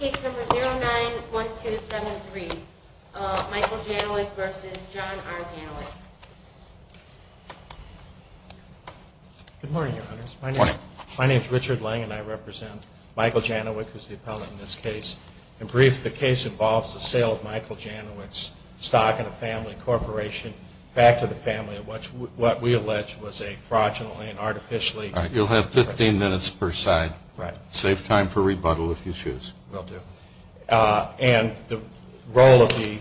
Case No. 09-4273 Michael Janowiak v. John R. Janowiak Good morning, Your Honors. My name is Richard Lang and I represent Michael Janowiak v. the appellant in this case. In brief, the case involves the sale of Michael Janowiak's stock in a family corporation back to the family of what we allege was a fraudulent and artificially- You'll have 15 minutes per side. Save time for rebuttal if you choose. And the role of the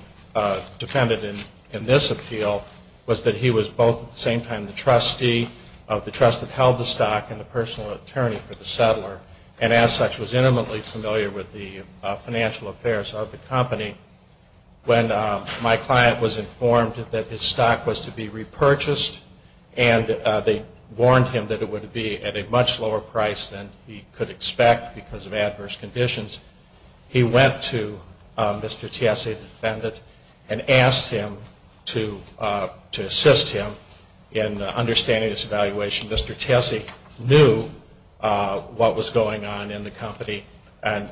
defendant in this appeal was that he was both at the same time the trustee of the trust that held the stock and the personal attorney for the settler, and as such was intimately familiar with the financial affairs of the company. When my client was informed that his stock was to be repurchased and they warned him that it would be at a much lower price than he could expect because of adverse conditions, he went to Mr. Tessie, the defendant, and asked him to assist him in understanding this evaluation. Mr. Tessie knew what was going on in the company and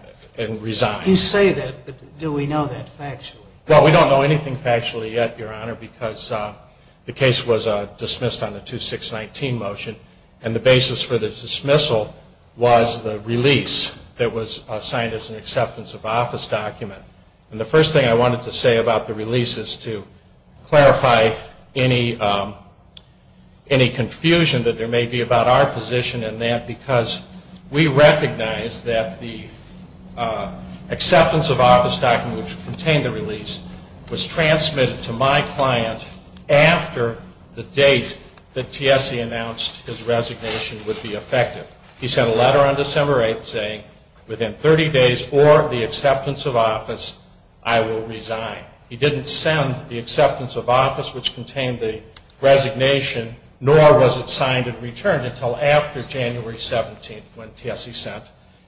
resigned. When you say that, do we know that factually? Well, we don't know anything factually yet, Your Honor, because the case was dismissed on the 2619 motion, and the basis for the dismissal was the release that was signed as an acceptance of office document. And the first thing I wanted to say about the release is to clarify any confusion that there may be about our position in that, because we recognize that the acceptance of office document, which contained the release, was transmitted to my client after the date that Tessie announced his resignation would be effective. He sent a letter on December 8th saying, within 30 days or the acceptance of office, I will resign. He didn't send the acceptance of office, which contained the resignation, nor was it signed and returned until after January 17th when Tessie sent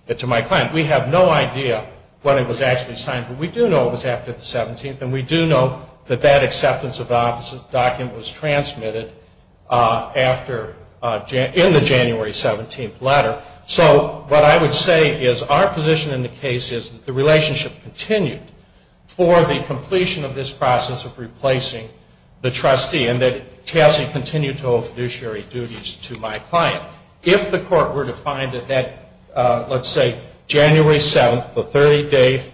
it to my client. We have no idea when it was actually signed, but we do know it was after the 17th, and we do know that that acceptance of office document was transmitted in the January 17th letter. So what I would say is our position in the case is that the relationship continued for the completion of this process of replacing the trustee, and that Tessie continued to hold fiduciary duties to my client. If the court were to find that that, let's say, January 7th, the 30-day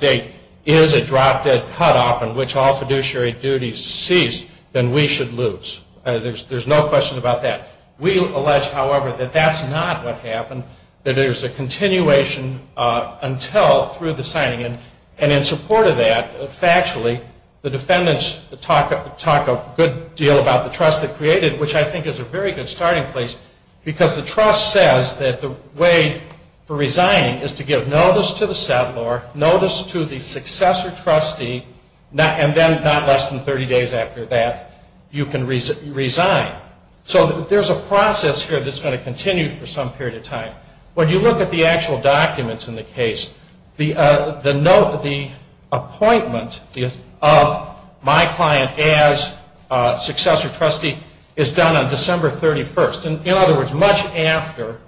date, is a drop-dead cutoff in which all fiduciary duties cease, then we should lose. There's no question about that. We allege, however, that that's not what happened, that there's a continuation until through the signing. And in support of that, factually, the defendants talk a good deal about the trust they created, which I think is a very good starting place, because the trust says that the way for resigning is to give notice to the settlor, notice to the successor trustee, and then not less than 30 days after that, you can resign. So there's a process here that's going to continue for some period of time. When you look at the actual documents in the case, the note, the appointment of my client as successor trustee is done on December 31st. In other words, much after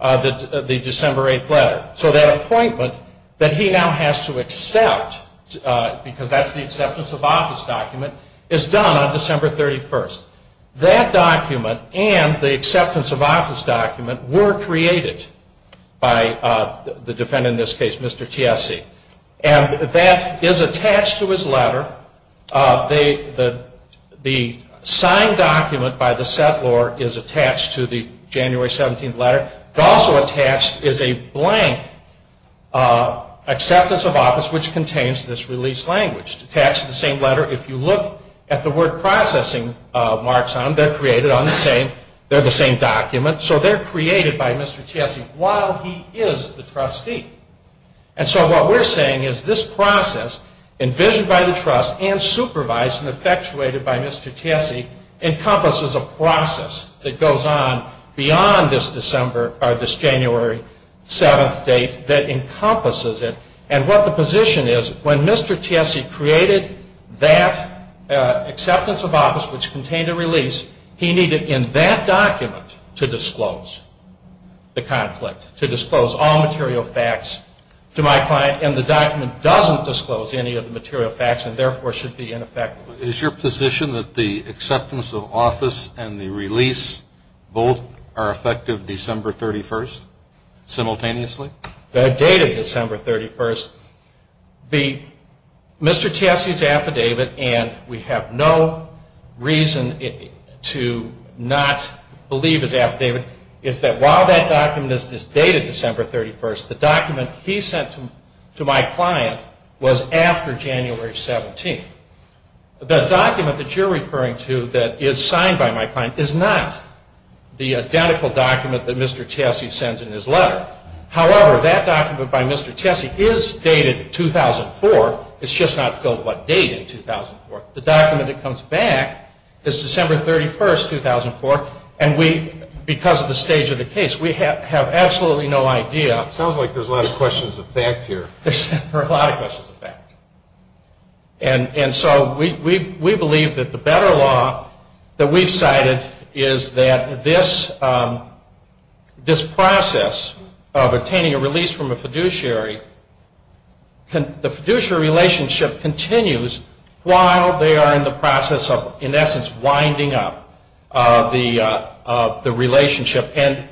the December 8th letter. So that appointment that he now has to accept, because that's the acceptance of office document, is done on December 31st. That document and the acceptance of office document were created by the defendant in this case, Mr. Chiesi. And that is attached to his letter. The signed document by the settlor is attached to the January 17th letter. It's also attached is a blank acceptance of office, which contains this release language. It's attached to the same letter. If you look at the word processing marks on them, they're created on the same document. So they're created by Mr. Chiesi while he is the trustee. And so what we're saying is this process, envisioned by the trust and supervised and effectuated by Mr. Chiesi, encompasses a process that goes on beyond this January 7th date that encompasses it. And what the position is, when Mr. Chiesi created that acceptance of office, which contained a release, he needed in that document to disclose the conflict, to disclose all material facts to my client, and the document doesn't disclose any of the material facts and therefore should be ineffective. Is your position that the acceptance of office and the release both are effective December 31st simultaneously? They're dated December 31st. Mr. Chiesi's affidavit, and we have no reason to not believe his affidavit, is that while that document is dated December 31st, the document he sent to my client was after January 17th. The document that you're referring to that is signed by my client is not the identical document that Mr. Chiesi sends in his letter. However, that document by Mr. Chiesi is dated 2004. It's just not filled with what date in 2004. The document that comes back is December 31st, 2004, and because of the stage of the case, we have absolutely no idea. Sounds like there's a lot of questions of fact here. There are a lot of questions of fact. And so we believe that the better law that we've cited is that this process of obtaining a release from a fiduciary, the fiduciary relationship continues while they are in the process of, in essence, winding up the relationship. And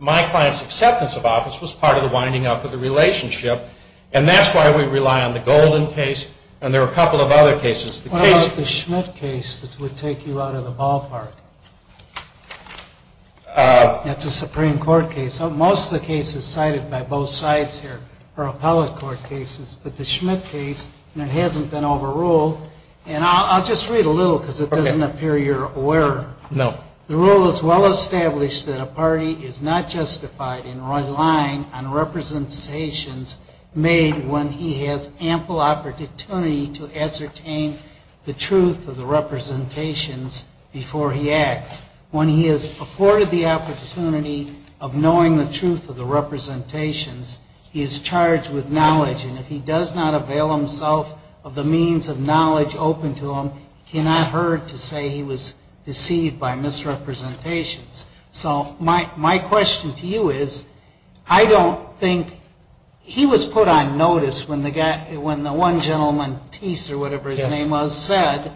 my client's acceptance of office was part of the winding up of the relationship, and that's why we rely on the Golden case, and there are a couple of other cases. What about the Schmidt case that would take you out of the ballpark? That's a Supreme Court case. Most of the cases cited by both sides here are appellate court cases, but the Schmidt case, and it hasn't been overruled, and I'll just read a little because it doesn't appear you're aware. No. The rule is well established that a party is not justified in relying on representations made when he has ample opportunity to ascertain the truth of the representations before he acts. When he has afforded the opportunity of knowing the truth of the representations, he is charged with knowledge, and if he does not avail himself of the means of knowledge open to him, he is not heard to say he was deceived by misrepresentations. So my question to you is, I don't think he was put on notice when the one gentleman, Teese or whatever his name was, said,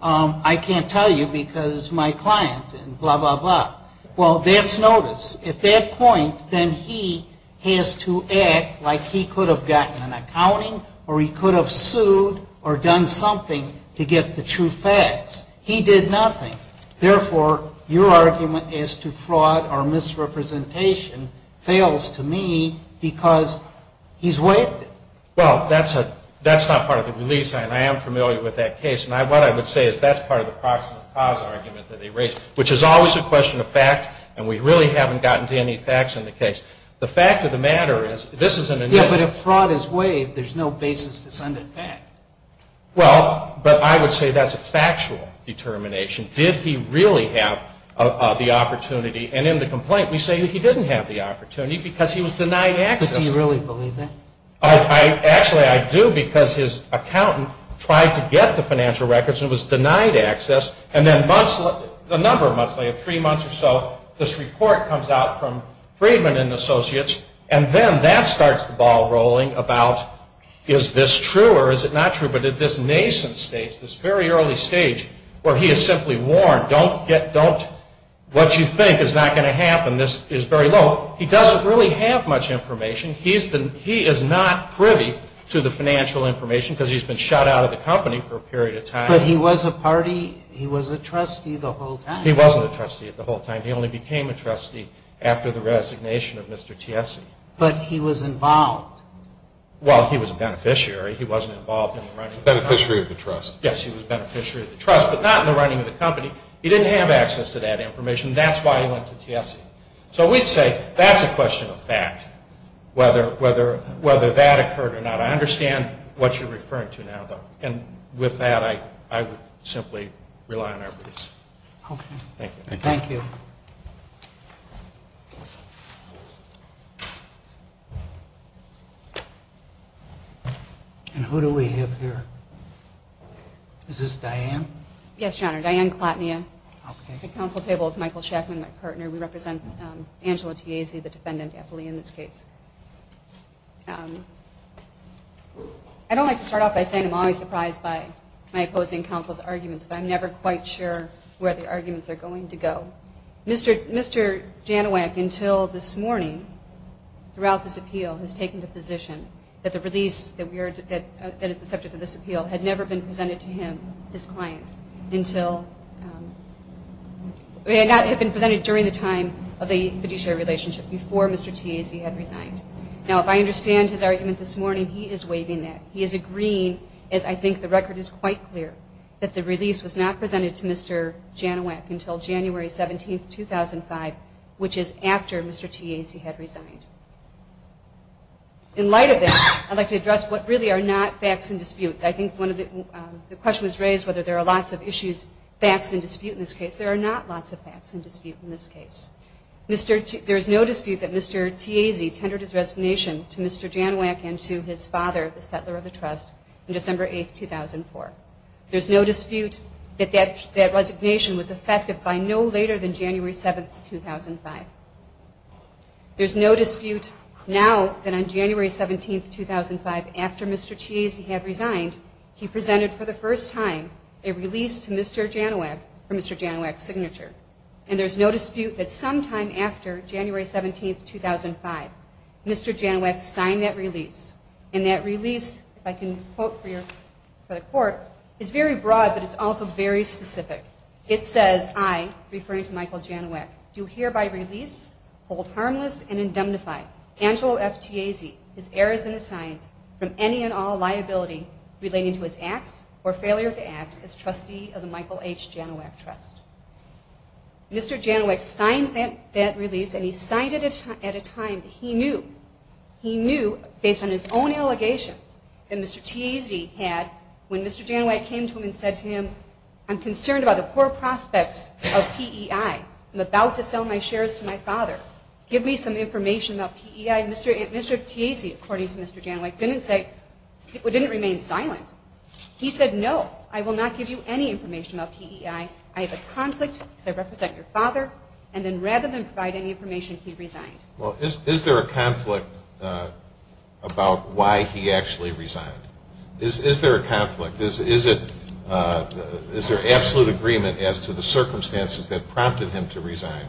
I can't tell you because my client, blah, blah, blah. Well, there's notice. At that point, then he has to act like he could have gotten an accounting or he could have sued or done something to get the true facts. He did nothing. Therefore, your argument as to fraud or misrepresentation fails to me because he's wicked. Well, that's not part of the release, and I am familiar with that case, and what I would say is that's part of the cause of the cause argument that he raised, which is always a question of fact, and we really haven't gotten to any facts in the case. The fact of the matter is this is an inevitable. Yes, but if fraud is waived, there's no basis to send it back. Well, but I would say that's a factual determination. Did he really have the opportunity? And in the complaint, we say that he didn't have the opportunity because he was denying access. Did he really believe that? Actually, I do because his accountant tried to get the financial records and was denied access, and then a number of months later, three months or so, this report comes out from Friedman and Associates, and then that starts the ball rolling about is this true or is it not true, but at this nascent stage, this very early stage where he is simply warned, what you think is not going to happen, this is very low. He doesn't really have much information. He is not privy to the financial information because he's been shut out of the company for a period of time. But he was a party. He was a trustee the whole time. He wasn't a trustee the whole time. He only became a trustee after the resignation of Mr. Tiessy. But he was involved. Well, he was a beneficiary. He wasn't involved in the running of the company. Beneficiary of the trust. Yes, he was a beneficiary of the trust, but not in the running of the company. He didn't have access to that information. That's why he went to Tiessy. So we'd say that's a question of fact, whether that occurred or not. I understand what you're referring to now, though. And with that, I would simply rely on our views. Okay. Thank you. And who do we have there? Is this Diane? Yes, Your Honor. Diane Klotnia. Okay. On the Council table is Michael Schaffman, my partner. We represent Angela Tiessy, the defendant, at the limits case. I don't like to start off by saying I'm always surprised by my opposing counsel's arguments, but I'm never quite sure where the arguments are going to go. Mr. Janowak, until this morning, throughout this appeal, has taken the position that the release that is the subject of this appeal had never been presented to him, his client, until it had not been presented during the time of the fiduciary relationship, before Mr. Tiessy had resigned. Now, if I understand his argument this morning, he is waiving that. He is agreeing, as I think the record is quite clear, that the release was not presented to Mr. Janowak until January 17, 2005, which is after Mr. Tiessy had resigned. In light of this, I'd like to address what really are not facts in dispute. I think one of the questions was raised whether there are lots of issues, facts in dispute in this case. There are not lots of facts in dispute in this case. There is no dispute that Mr. Tiessy tendered his resignation to Mr. Janowak and to his father, the settler of the trust, on December 8, 2004. There's no dispute that that resignation was effective by no later than January 7, 2005. There's no dispute now that on January 17, 2005, after Mr. Tiessy had resigned, he presented for the first time a release to Mr. Janowak for Mr. Janowak's signature. And there's no dispute that sometime after January 17, 2005, Mr. Janowak signed that release. And that release, if I can quote for the court, is very broad, but it's also very specific. It says, I, referring to Michael Janowak, do hereby release, hold harmless, and indemnify Angelo F. Tiessy, his heirs and assigned, from any and all liability relating to his act or failure to act as trustee of the Michael H. Janowak Trust. Mr. Janowak signed that release, and he signed it at a time that he knew, he knew based on his own allegation that Mr. Tiessy had, when Mr. Janowak came to him and said to him, I'm concerned about a poor prospect of PEI. I'm about to sell my shares to my father. Give me some information about PEI. Mr. Tiessy, according to Mr. Janowak, didn't say, didn't remain silent. He said, no, I will not give you any information about PEI. I have a conflict. I represent your father. And then rather than provide any information, he resigned. Well, is there a conflict about why he actually resigned? Is there a conflict? Is there absolute agreement as to the circumstances that prompted him to resign,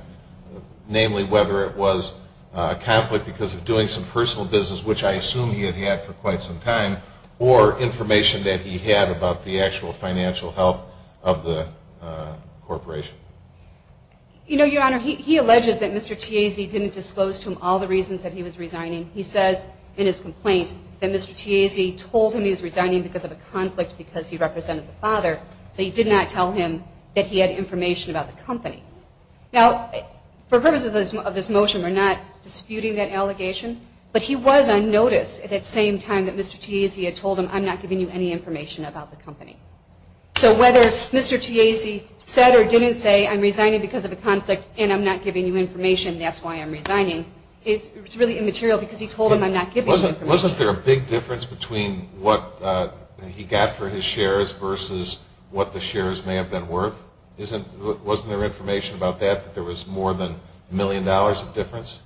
namely whether it was a conflict because of doing some personal business, which I assume he had had for quite some time, or information that he had about the actual financial health of the corporation? You know, Your Honor, he alleged that Mr. Tiessy didn't disclose to him all the reasons that he was resigning. He said in his complaint that Mr. Tiessy told him he was resigning because of a conflict because he represented the father, but he did not tell him that he had information about the company. Now, for purposes of this motion, we're not disputing that allegation, but he was on notice at the same time that Mr. Tiessy had told him, I'm not giving you any information about the company. So whether Mr. Tiessy said or didn't say, I'm resigning because of a conflict and I'm not giving you information, that's why I'm resigning, it's really immaterial because he told him, I'm not giving you information. Wasn't there a big difference between what he got for his shares versus what the shares may have been worth? Wasn't there information about that, that there was more than $1 million of difference?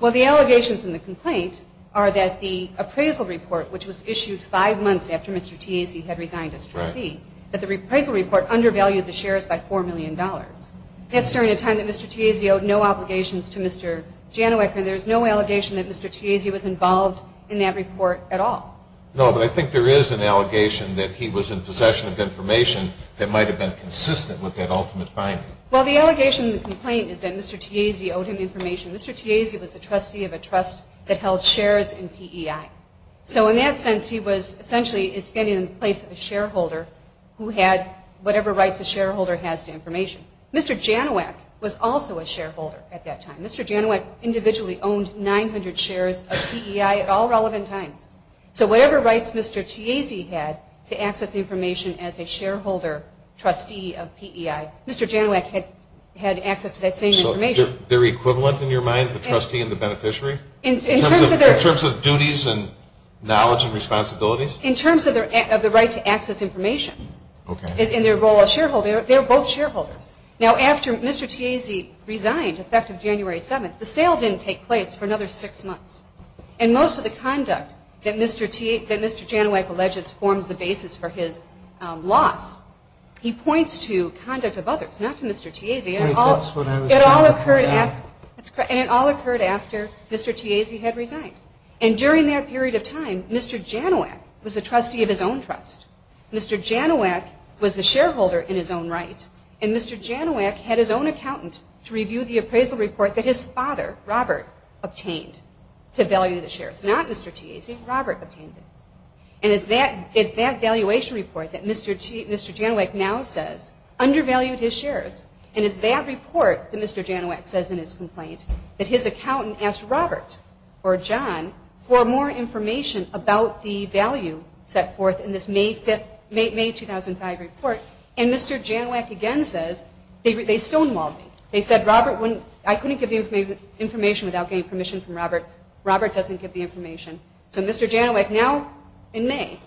Well, the allegations in the complaint are that the appraisal report, which was issued five months after Mr. Tiessy had resigned as trustee, that the appraisal report undervalued the shares by $4 million. That's during a time that Mr. Tiessy owed no obligations to Mr. Janowick and there's no allegation that Mr. Tiessy was involved in that report at all. No, but I think there is an allegation that he was in possession of information that might have been consistent with that ultimate finding. Well, the allegation in the complaint is that Mr. Tiessy owed him information. Mr. Tiessy was the trustee of a trust that held shares in PEI. So in that sense, he was essentially standing in the place of a shareholder who had whatever rights a shareholder has to information. Mr. Janowick was also a shareholder at that time. Mr. Janowick individually owned 900 shares of PEI at all relevant times. So whatever rights Mr. Tiessy had to access information as a shareholder trustee of PEI, Mr. Janowick had access to that same information. So they're equivalent in your mind, the trustee and the beneficiary? In terms of their... In terms of duties and knowledge and responsibilities? In terms of the right to access information. Okay. In their role as shareholders, they were both shareholders. Now, after Mr. Tiessy resigned at the end of January 7th, the sale didn't take place for another six months. And most of the conduct that Mr. Janowick alleges formed the basis for his loss, he points to conduct of others, not to Mr. Tiessy. And it all occurred after Mr. Tiessy had resigned. And during that period of time, Mr. Janowick was a trustee of his own trust. Mr. Janowick was a shareholder in his own right. And Mr. Janowick had his own accountant to review the appraisal report that his father, Robert, obtained to value the shares. Not Mr. Tiessy. Robert obtained it. And it's that valuation report that Mr. Janowick now says undervalued his shares. And it's that report that Mr. Janowick says in his complaint that his accountant asked Robert or John for more information about the value set forth in this May 5th, May 2005 report. And Mr. Janowick again says, they stonewalled him. They said, Robert wouldn't, I couldn't give you information without getting permission from Robert. Robert doesn't get the information. So Mr. Janowick now in May,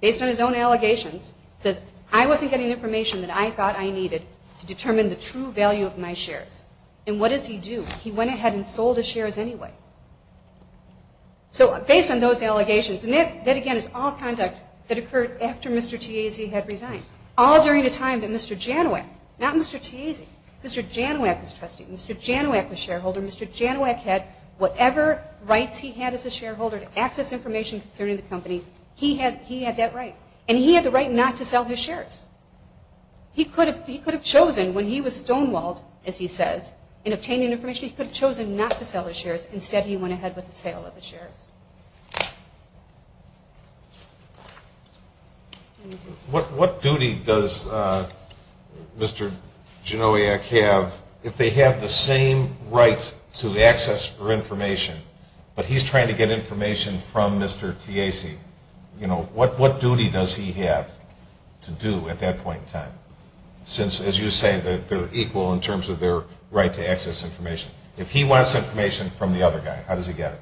based on his own allegations, says I wasn't getting information that I thought I needed to determine the true value of my shares. And what does he do? He went ahead and sold his shares anyway. So based on those allegations, and that again is all conduct that occurred after Mr. Tiessy had resigned. All during the time that Mr. Janowick, not Mr. Tiessy, Mr. Janowick was trusting. Mr. Janowick, the shareholder, Mr. Janowick had whatever rights he had as a shareholder to access information concerning the company, he had that right. And he had the right not to sell his shares. He could have chosen when he was stonewalled, as he says, in obtaining information, he could have chosen not to sell his shares. Instead, he went ahead with the sale of the shares. What duty does Mr. Janowick have, if they have the same right to access for information, but he's trying to get information from Mr. Tiessy, what duty does he have to do at that point in time? Since, as you say, they're equal in terms of their right to access information. If he wants information from the other guy, how does he get it?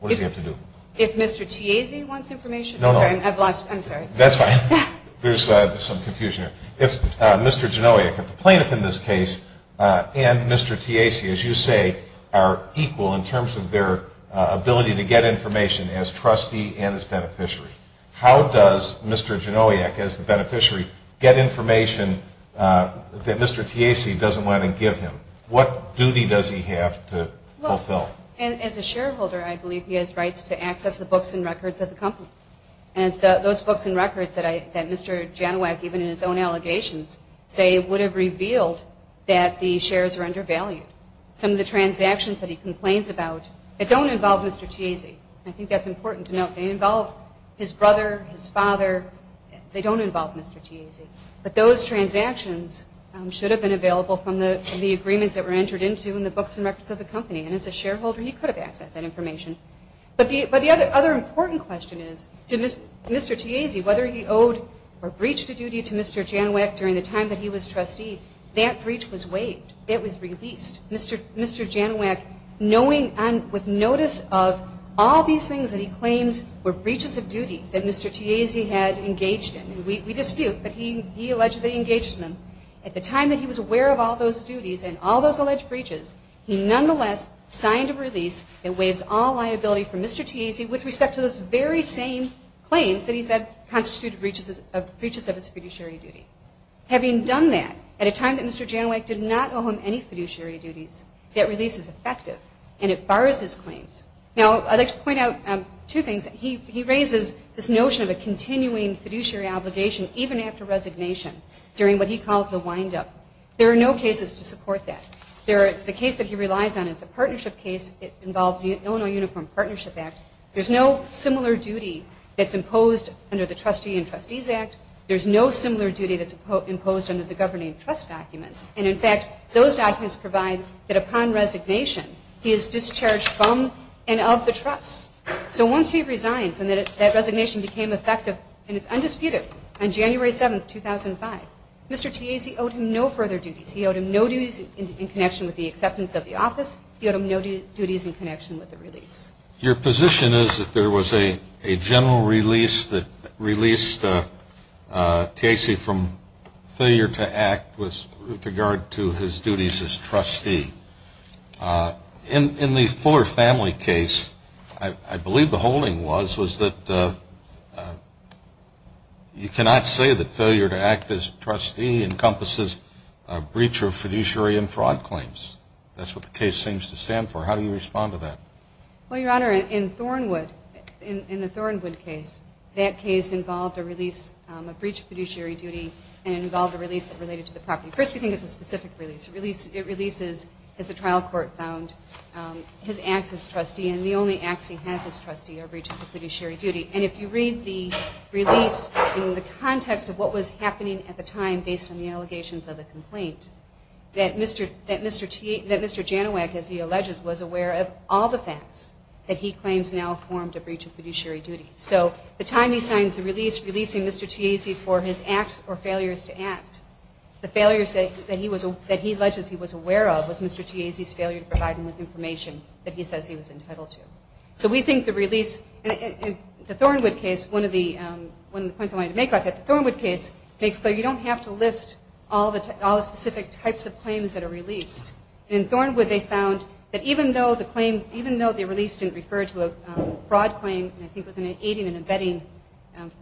What does he have to do? If Mr. Tiessy wants information? No, no. I'm sorry. That's fine. There's some confusion here. If Mr. Janowick, the plaintiff in this case, and Mr. Tiessy, as you say, are equal in terms of their ability to get information as trustee and as beneficiary, how does Mr. Janowick, as the beneficiary, get information that Mr. Tiessy doesn't want to give him? What duty does he have to fulfill? As a shareholder, I believe he has rights to access the books and records of the company. Those books and records that Mr. Janowick, even in his own allegations, say would have revealed that the shares are undervalued. Some of the transactions that he complains about don't involve Mr. Tiessy. I think that's important to note. They involve his brother, his father. They don't involve Mr. Tiessy. But those transactions should have been available from the agreements that were entered into and the books and records of the company. And as a shareholder, he could have accessed that information. But the other important question is to Mr. Tiessy, whether he owed or breached a duty to Mr. Janowick during the time that he was trustee, that breach was waived. It was released. Mr. Janowick, with notice of all these things that he claims were breaches of duties that Mr. Tiessy had engaged in, and we dispute that he allegedly engaged in them, at the time that he was aware of all those duties and all those alleged breaches, he nonetheless signed a release that waived all liability for Mr. Tiessy, which we set to those very same claims that he said constituted breaches of his fiduciary duty. Having done that, at a time that Mr. Janowick did not owe him any fiduciary duties, that release is effective and it bars his claims. Now, I'd like to point out two things. He raises this notion of a continuing fiduciary obligation, even after resignation, during what he calls the windup. There are no cases to support that. The case that he relies on is the partnership case. It involves the Illinois Uniform Partnership Act. There's no similar duty that's imposed under the Trustee and Trustees Act. There's no similar duty that's imposed under the governing trust document. And, in fact, those documents provide that upon resignation, he is discharged from and of the trust. So once he resigns and that resignation became effective and is undisputed on January 7, 2005, Mr. Tiessy owed him no further duties. He owed him no duties in connection with the acceptance of the office. He owed him no duties in connection with the release. Your position is that there was a general release that released Tiessy from failure to act with regard to his duties as trustee. In the Fuller family case, I believe the holding was, was that you cannot say that failure to act as trustee encompasses a breach of fiduciary and fraud claims. That's what the case seems to stand for. How do you respond to that? Well, Your Honor, in Thornwood, in the Thornwood case, that case involved a release, a breach of fiduciary duty, and involved a release related to the property. First, you think it's a specific release. It releases, as the trial court found, his act as trustee, and the only act he has as trustee are breaches of fiduciary duty. And if you read the release in the context of what was happening at the time based on the allegations of the complaint, that Mr. Janowak, as he alleges, was aware of all the facts that he claims now formed a breach of fiduciary duty. So the time he signs the release, releasing Mr. Tiessy for his acts or failures to act, the failures that he alleges he was aware of was Mr. Tiessy's failure to provide enough information that he says he was entitled to. So we think the release, in the Thornwood case, one of the points I wanted to make about the Thornwood case, is that you don't have to list all the specific types of claims that are released. In Thornwood, they found that even though the claims, even though the release didn't refer to a fraud claim, I think it was an aiding and abetting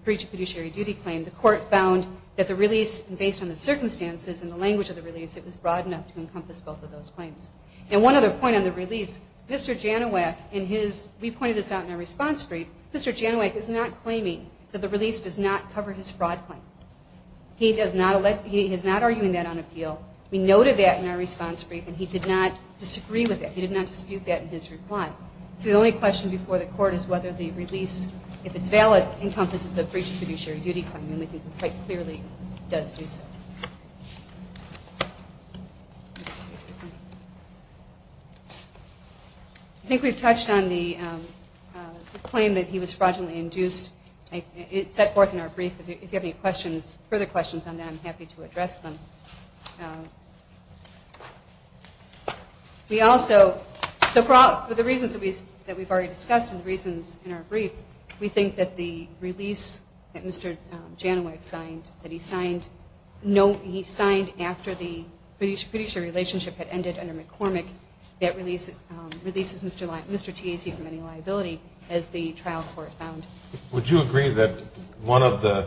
breach of fiduciary duty claim, the court found that the release, based on the circumstances and the language of the release, it was broad enough to encompass both of those claims. And one other point on the release, Mr. Janowak, in his, we pointed this out in our response brief, Mr. Janowak is not claiming that the release does not cover his fraud claim. He does not, he is not arguing that on appeal. We noted that in our response brief, and he did not disagree with that. He did not dispute that in his reply. So the only question before the court is whether the release, if it's valid, encompasses a breach of fiduciary duty claim, and I think it quite clearly does do so. I think we've touched on the claim that he was fraudulently induced. It's set forth in our brief. If you have any questions, further questions on that, I'm happy to address them. We also, for the reasons that we've already discussed and the reasons in our brief, we think that the release that Mr. Janowak signed, that he signed, after the fiduciary relationship had ended under McCormick, that releases Mr. Tiasi from any liability, as the trial court found. Would you agree that one of the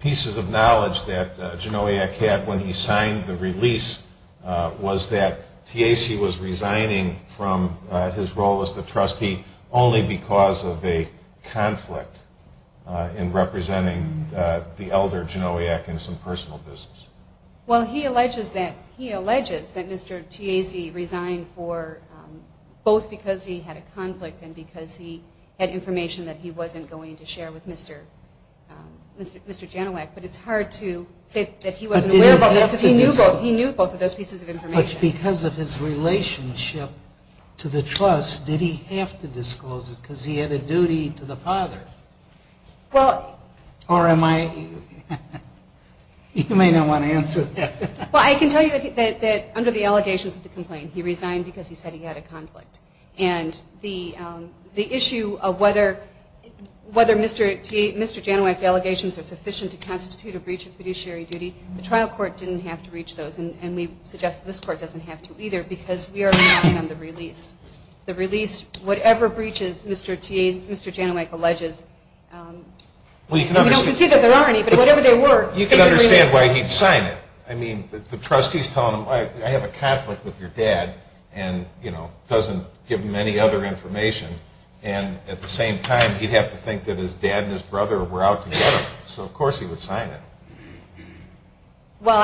pieces of knowledge that Janowak had when he signed the release was that Tiasi was resigning from his role as the trustee only because of a conflict in representing the elder Janowak in some personal business? Well, he alleges that Mr. Tiasi resigned both because he had a conflict and because he had information that he wasn't going to share with Mr. Janowak, but it's hard to say that he wasn't aware of both. He knew both of those pieces of information. But because of his relationship to the trust, did he have to disclose it because he had a duty to the father? Or am I...you may not want to answer that. Well, I can tell you that under the allegations of the complaint, he resigned because he said he had a conflict. And the issue of whether Mr. Janowak's allegations are sufficient to constitute a breach of fiduciary duty, the trial court didn't have to reach those, and we suggest that this court doesn't have to either because we are working on the release. And whatever breaches Mr. Tiasi, Mr. Janowak alleges... Well, you can understand why he'd sign it. I mean, the trustee's telling him, I have a conflict with your dad and, you know, doesn't give him any other information. And at the same time, he'd have to think that his dad and his brother were out together. So, of course, he would sign it. Well,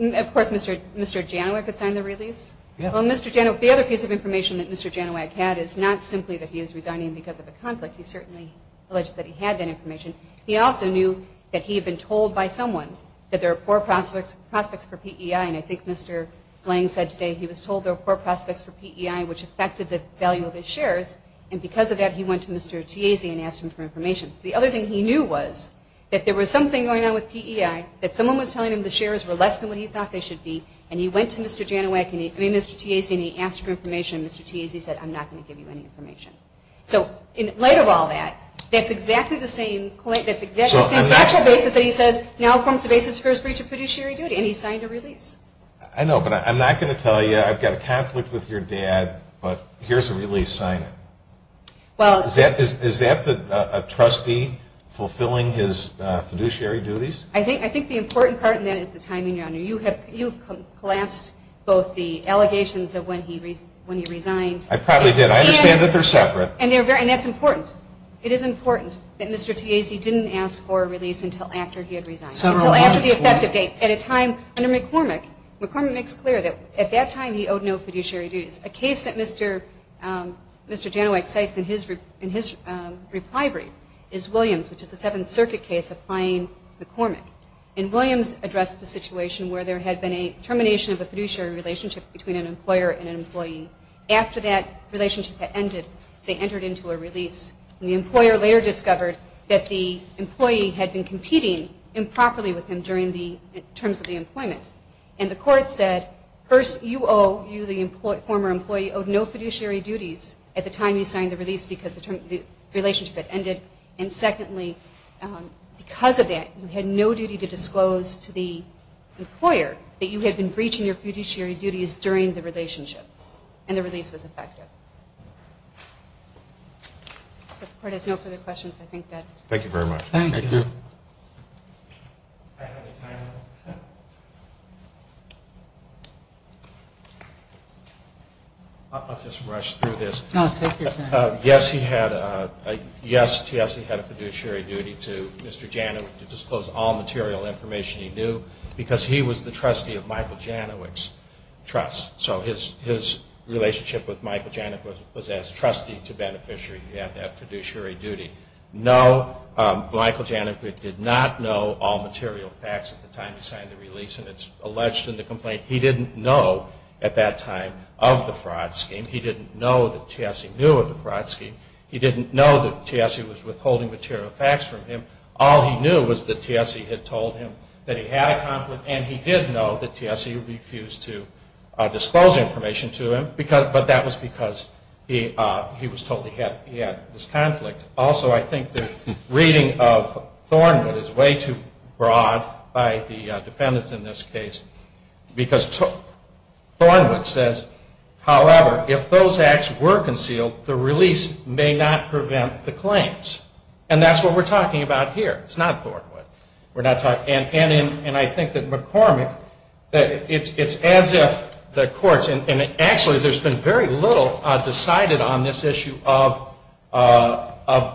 of course, Mr. Janowak would sign the release. Well, Mr. Janowak, the other piece of information that Mr. Janowak had is not simply that he is resigning because of a conflict. He certainly alleged that he had that information. He also knew that he had been told by someone that there were poor prospects for PEI, and I think Mr. Lang said today he was told there were poor prospects for PEI, which affected the value of his shares. And because of that, he went to Mr. Tiasi and asked him for information. The other thing he knew was that there was something going on with PEI, that someone was telling him the shares were less than what he thought they should be, and he went to Mr. Janowak and he went to Mr. Tiasi and he asked for information, and Mr. Tiasi said, I'm not going to give you any information. So, in light of all that, that's exactly the same point. That's exactly the same factual basis that he said, now forms the basis for his breach of fiduciary duty, and he signed a release. I know, but I'm not going to tell you I've got a conflict with your dad, but here's a release signing. Is that a trustee fulfilling his fiduciary duties? I think the important part in that is the timing, Your Honor. You've collapsed both the allegations of when he resigned. I probably did. I understand they're separate. And that's important. It is important that Mr. Tiasi didn't ask for a release until after he had resigned. So, after the effective date, at a time under McCormick, McCormick makes it clear that at that time he owed no fiduciary duties. A case that Mr. Janowak takes in his brief library is Williams, which is a Seventh Circuit case applying McCormick. And Williams addressed the situation where there had been a termination of the fiduciary relationship between an employer and an employee. After that relationship had ended, they entered into a release, and the employer later discovered that the employee had been competing improperly with him during the terms of the employment. And the court said, first, you owe, you, the former employee, owe no fiduciary duties at the time you signed the release because the relationship had ended. And secondly, because of that, you had no duty to disclose to the employer that you had been breaching your fiduciary duties during the relationship. And the release was effective. The court has no further questions. I think that's it. Thank you very much. Thank you. I'll just rush through this. Yes, TSA had a fiduciary duty to Mr. Janowak to disclose all material information he knew because he was the trustee of Michael Janowak's trust. So his relationship with Michael Janowak was as trustee to beneficiary. He had that fiduciary duty. No, Michael Janowak did not know all material facts at the time he signed the release, and it's alleged in the complaint he didn't know at that time of the fraud scheme. He didn't know that TSA knew of the fraud scheme. He didn't know that TSA was withholding material facts from him. All he knew was that TSA had told him that he had a conflict, and he did know that TSA refused to disclose information to him, but that was because he was told he had this conflict. Also, I think the reading of Thornwood is way too broad by the defendants in this case because Thornwood says, however, if those acts were concealed, the release may not prevent the claims, and that's what we're talking about here. It's not Thornwood. And I think that McCormick, it's as if the courts, and actually there's been very little decided on this issue of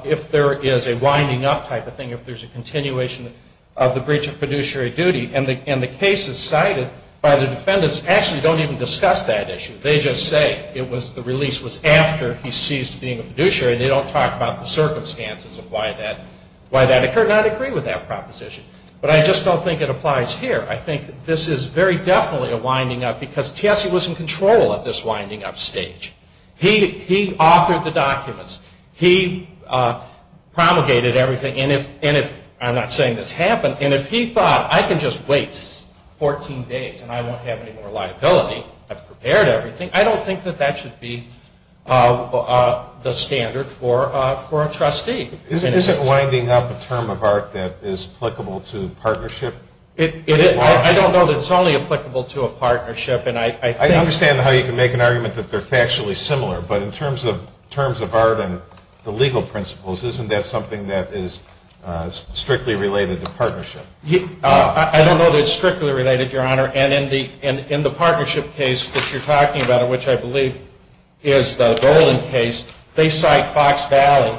if there is a winding up type of thing, if there's a continuation of the breach of fiduciary duty, and the cases cited by the defendants actually don't even discuss that issue. They just say the release was after he ceased being a fiduciary. They don't talk about the circumstances of why that occurred, and I'd agree with that proposition, but I just don't think it applies here. I think this is very definitely a winding up because TSA was in control of this winding up stage. He authored the documents. He promulgated everything, and I'm not saying this happened, and if he thought I can just wait 14 days and I don't have any more liability, I've prepared everything, I don't think that that should be the standard for a trustee. Isn't winding up a term of art that is applicable to partnership? I don't know that it's only applicable to a partnership. I understand how you can make an argument that they're factually similar, but in terms of art and the legal principles, isn't that something that is strictly related to partnership? I don't know that it's strictly related, Your Honor, and in the partnership case that you're talking about, which I believe is the Dolan case, they cite Fox Valley,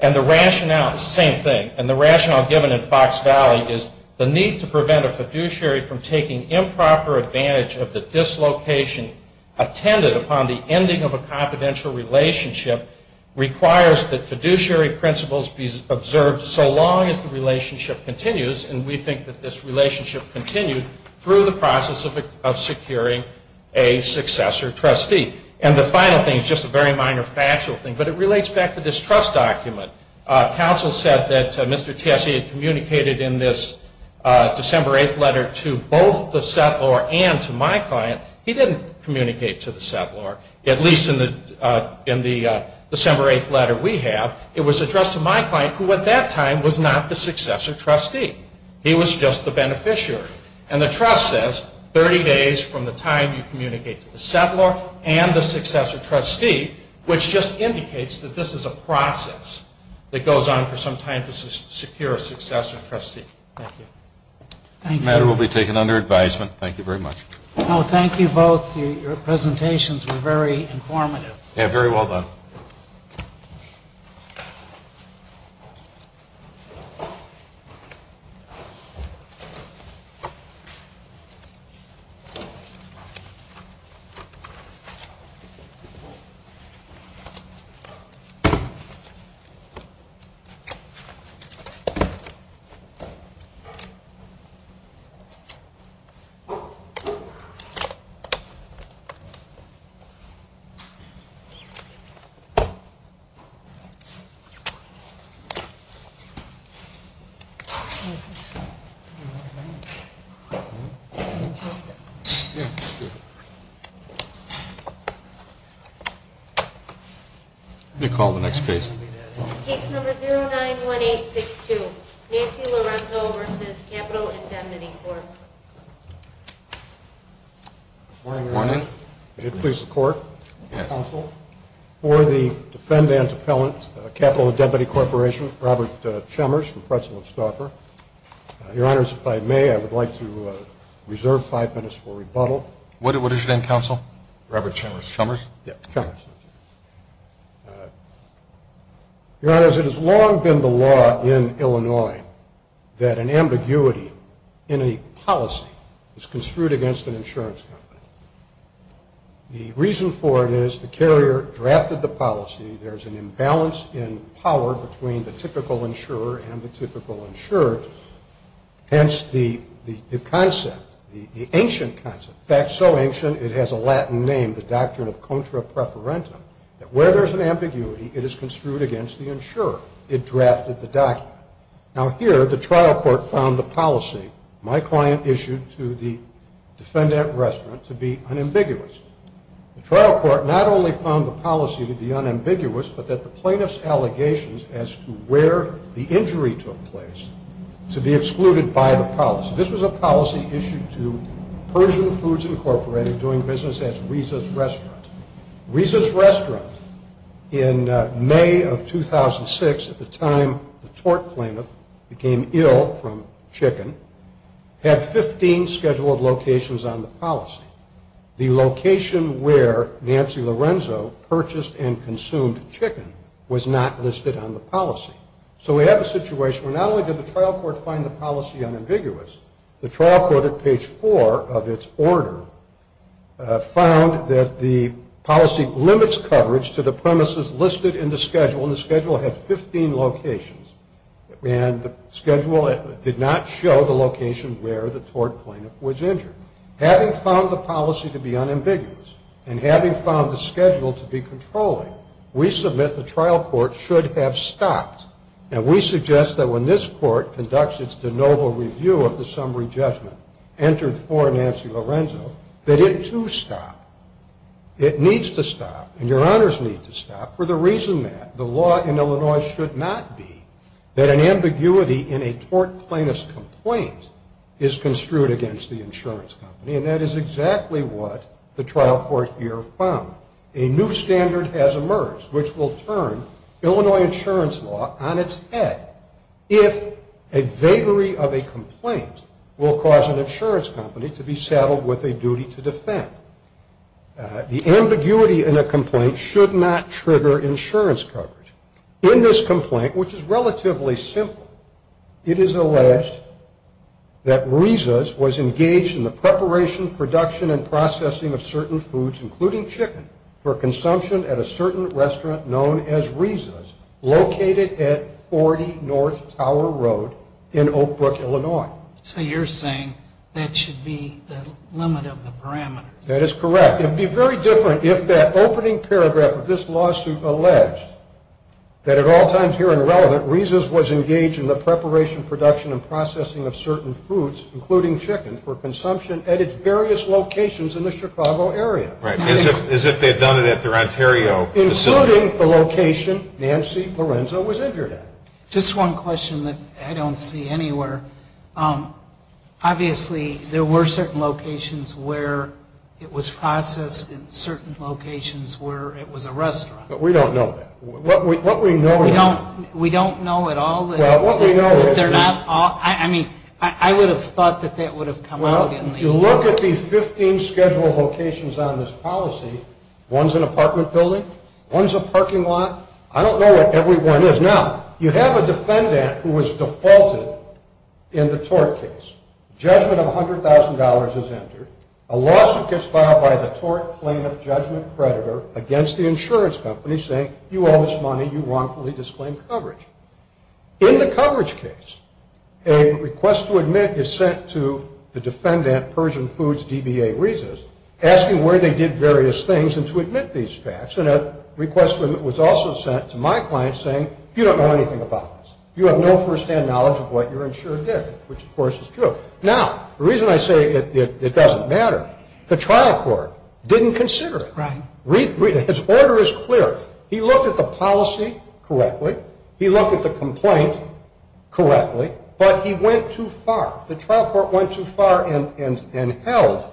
and the rationale is the same thing, and the rationale given in Fox Valley is the need to prevent a fiduciary from taking improper advantage of the dislocation upon the ending of a confidential relationship requires that fiduciary principles be observed so long as the relationship continues, and we think that this relationship continues through the process of securing a successor trustee. And the final thing, just a very minor factual thing, but it relates back to this trust document. Counsel said that Mr. Chessie had communicated in this December 8th letter to both the settlor and to my client. He didn't communicate to the settlor, at least in the December 8th letter we have. It was addressed to my client, who at that time was not the successor trustee. He was just the beneficiary, and the trust says 30 days from the time you communicate to the settlor and the successor trustee, which just indicates that this is a process that goes on for some time to secure a successor trustee. The matter will be taken under advisement. Thank you very much. Well, thank you both. Your presentations were very informative. Yeah, very well done. Thank you. What do you call the next case? Case number 091862, Nancy Lorenzo v. Capital and Deputy Court. Good morning, Your Honor. Good morning. Could you please report? Yes. Counsel, for the defendant appellant, Capital and Deputy Corporation, Robert Chemmers, the president of Stauffer. Your Honor, if I may, I would like to reserve five minutes for rebuttal. What is your name, Counsel? Robert Chemmers. Chemmers? Yeah, Chemmers. Your Honor, it has long been the law in Illinois that an ambiguity in a policy is construed against an insurance company. The reason for it is the carrier drafted the policy, there's an imbalance in power between the typical insurer and the typical insurer, hence the concept, the ancient concept, in fact, so ancient it has a Latin name, the doctrine of contra preferentia, that where there's an ambiguity, it is construed against the insurer. It drafted the document. Now, here, the trial court found the policy my client issued to the defendant at restaurant to be unambiguous. The trial court not only found the policy to be unambiguous, but that the plaintiff's allegations as to where the injury took place should be excluded by the policy. This was a policy issued to Persian Foods Incorporated doing business at Risa's Restaurant. Risa's Restaurant in May of 2006, at the time the court claimed it, became ill from chicken, had 15 scheduled locations on the policy. The location where Nancy Lorenzo purchased and consumed chicken was not listed on the policy. So we have a situation where not only did the trial court find the policy unambiguous, the trial court at page four of its order found that the policy limits coverage to the premises listed in the schedule, and the schedule had 15 locations. And the schedule did not show the location where the tort plaintiff was injured. Having found the policy to be unambiguous, and having found the schedule to be controlling, we submit the trial court should have stopped. And we suggest that when this court conducts its de novo review of the summary judgment entered for Nancy Lorenzo, that it too stop. It needs to stop, and your honors need to stop, for the reason that the law in Illinois should not be that an ambiguity in a tort plaintiff's complaint is construed against the insurance company, and that is exactly what the trial court here found. A new standard has emerged which will turn Illinois insurance law on its head if a vagary of a complaint will cause an insurance company to be saddled with a duty to defend. The ambiguity in a complaint should not trigger insurance coverage. In this complaint, which is relatively simple, it is alleged that Risas was engaged in the preparation, production, and processing of certain foods, including chicken, for consumption at a certain restaurant known as Risas, located at 40 North Tower Road in Oak Brook, Illinois. So you're saying that should be the limit of the parameter. That is correct. It would be very different if that opening paragraph of this lawsuit alleged that at all times here in relevant, Risas was engaged in the preparation, production, and processing of certain foods, including chicken, for consumption at its various locations in the Chicago area. As if they had done it at their Ontario facility. Including the location Nancy Lorenzo was injured at. Just one question that I don't see anywhere. Obviously, there were certain locations where it was processed and certain locations where it was a restaurant. But we don't know that. What we know... We don't know at all. I mean, I would have thought that that would have come up. Well, if you look at the 15 scheduled locations on this policy, one's an apartment building, one's a parking lot. I don't know what every one is. Now, you have a defendant who was defaulted in the tort case. Judgment of $100,000 is entered. A lawsuit gets filed by the tort plaintiff judgment predator against the insurance company saying you owe this money, you wrongfully disclaimed coverage. In the coverage case, a request to admit is sent to the defendant, Persian Foods DBA Risas, asking where they did various things and to admit these facts. And a request was also sent to my client saying, you don't know anything about this. You have no first-hand knowledge of what your insurer did. Which, of course, is true. Now, the reason I say it doesn't matter, the trial court didn't consider it. His order is clear. He looked at the policy correctly. He looked at the complaint correctly. But he went too far. The trial court went too far and held,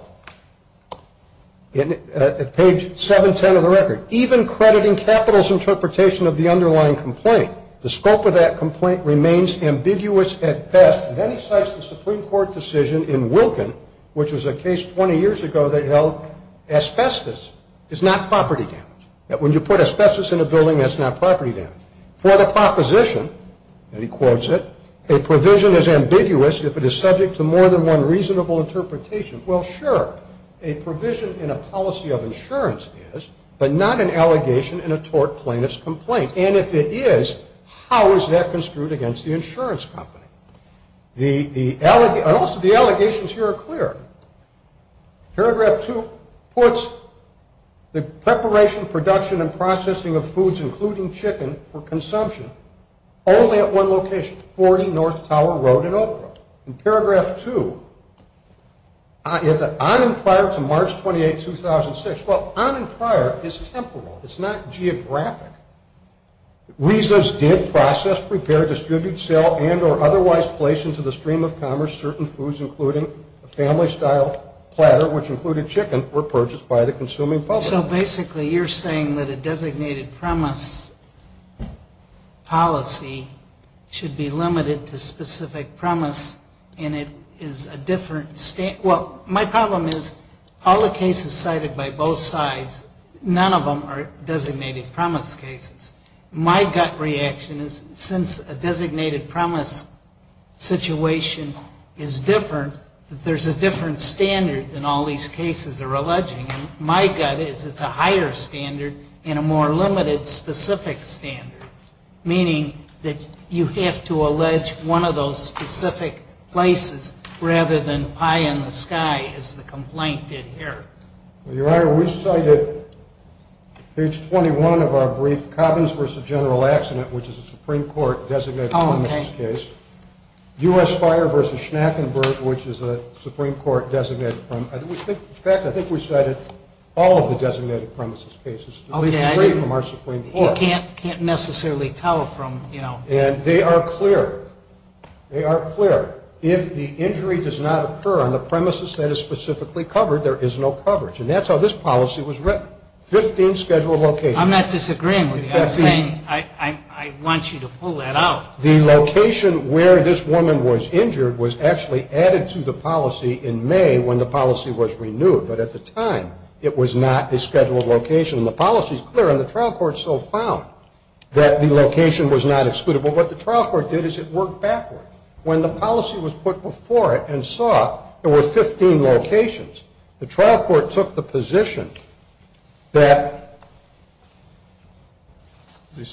at page 710 of the record, even crediting capital's interpretation of the underlying complaint. The scope of that complaint remains ambiguous at best. Then he cites the Supreme Court decision in Wilkin, which was a case 20 years ago that held asbestos is not property damage. That when you put asbestos in a building, that's not property damage. For the proposition, and he quotes it, a provision is ambiguous if it is subject to more than one reasonable interpretation. Well, sure, a provision in a policy of insurance is, but not an allegation in a tort plaintiff's complaint. And if it is, how is that construed against the insurance company? Most of the allegations here are clear. Paragraph 2 puts the preparation, production, and processing of foods, including chicken, for consumption only at one location, Ford and North Tower Road in Oak Grove. In paragraph 2, on and prior to March 28, 2006. Well, on and prior is temporal. It's not geographic. Reasons did process, prepare, distribute, sell, and or otherwise place into the stream of commerce certain foods, including a family-style platter, which included chicken, were purchased by the consuming public. So basically you're saying that a designated premise policy should be limited to specific premise, and it is a different state. Well, my problem is all the cases cited by both sides, none of them are designated premise cases. My gut reaction is since a designated premise situation is different, that there's a different standard than all these cases are alleging. My gut is it's a higher standard and a more limited specific standard, meaning that you have to allege one of those specific places rather than pie in the sky as the complaint did here. Your Honor, we cited page 21 of our brief, Cobbins v. General Accident, which is a Supreme Court designated premises case. U.S. Fire v. Schnappenberg, which is a Supreme Court designated premise. In fact, I think we cited all of the designated premises cases, at least three from our Supreme Court. You can't necessarily tell from, you know. And they are clear. They are clear. If the injury does not occur on the premises that is specifically covered, there is no coverage. And that's how this policy was written. Fifteen scheduled locations. I'm not disagreeing. I want you to pull that out. The location where this woman was injured was actually added to the policy in May when the policy was renewed. But at the time, it was not the scheduled location. And the policy is clear. And the trial court so found that the location was not excludable. What the trial court did is it worked backward. When the policy was put before it and saw there were 15 locations, the trial court took the position that the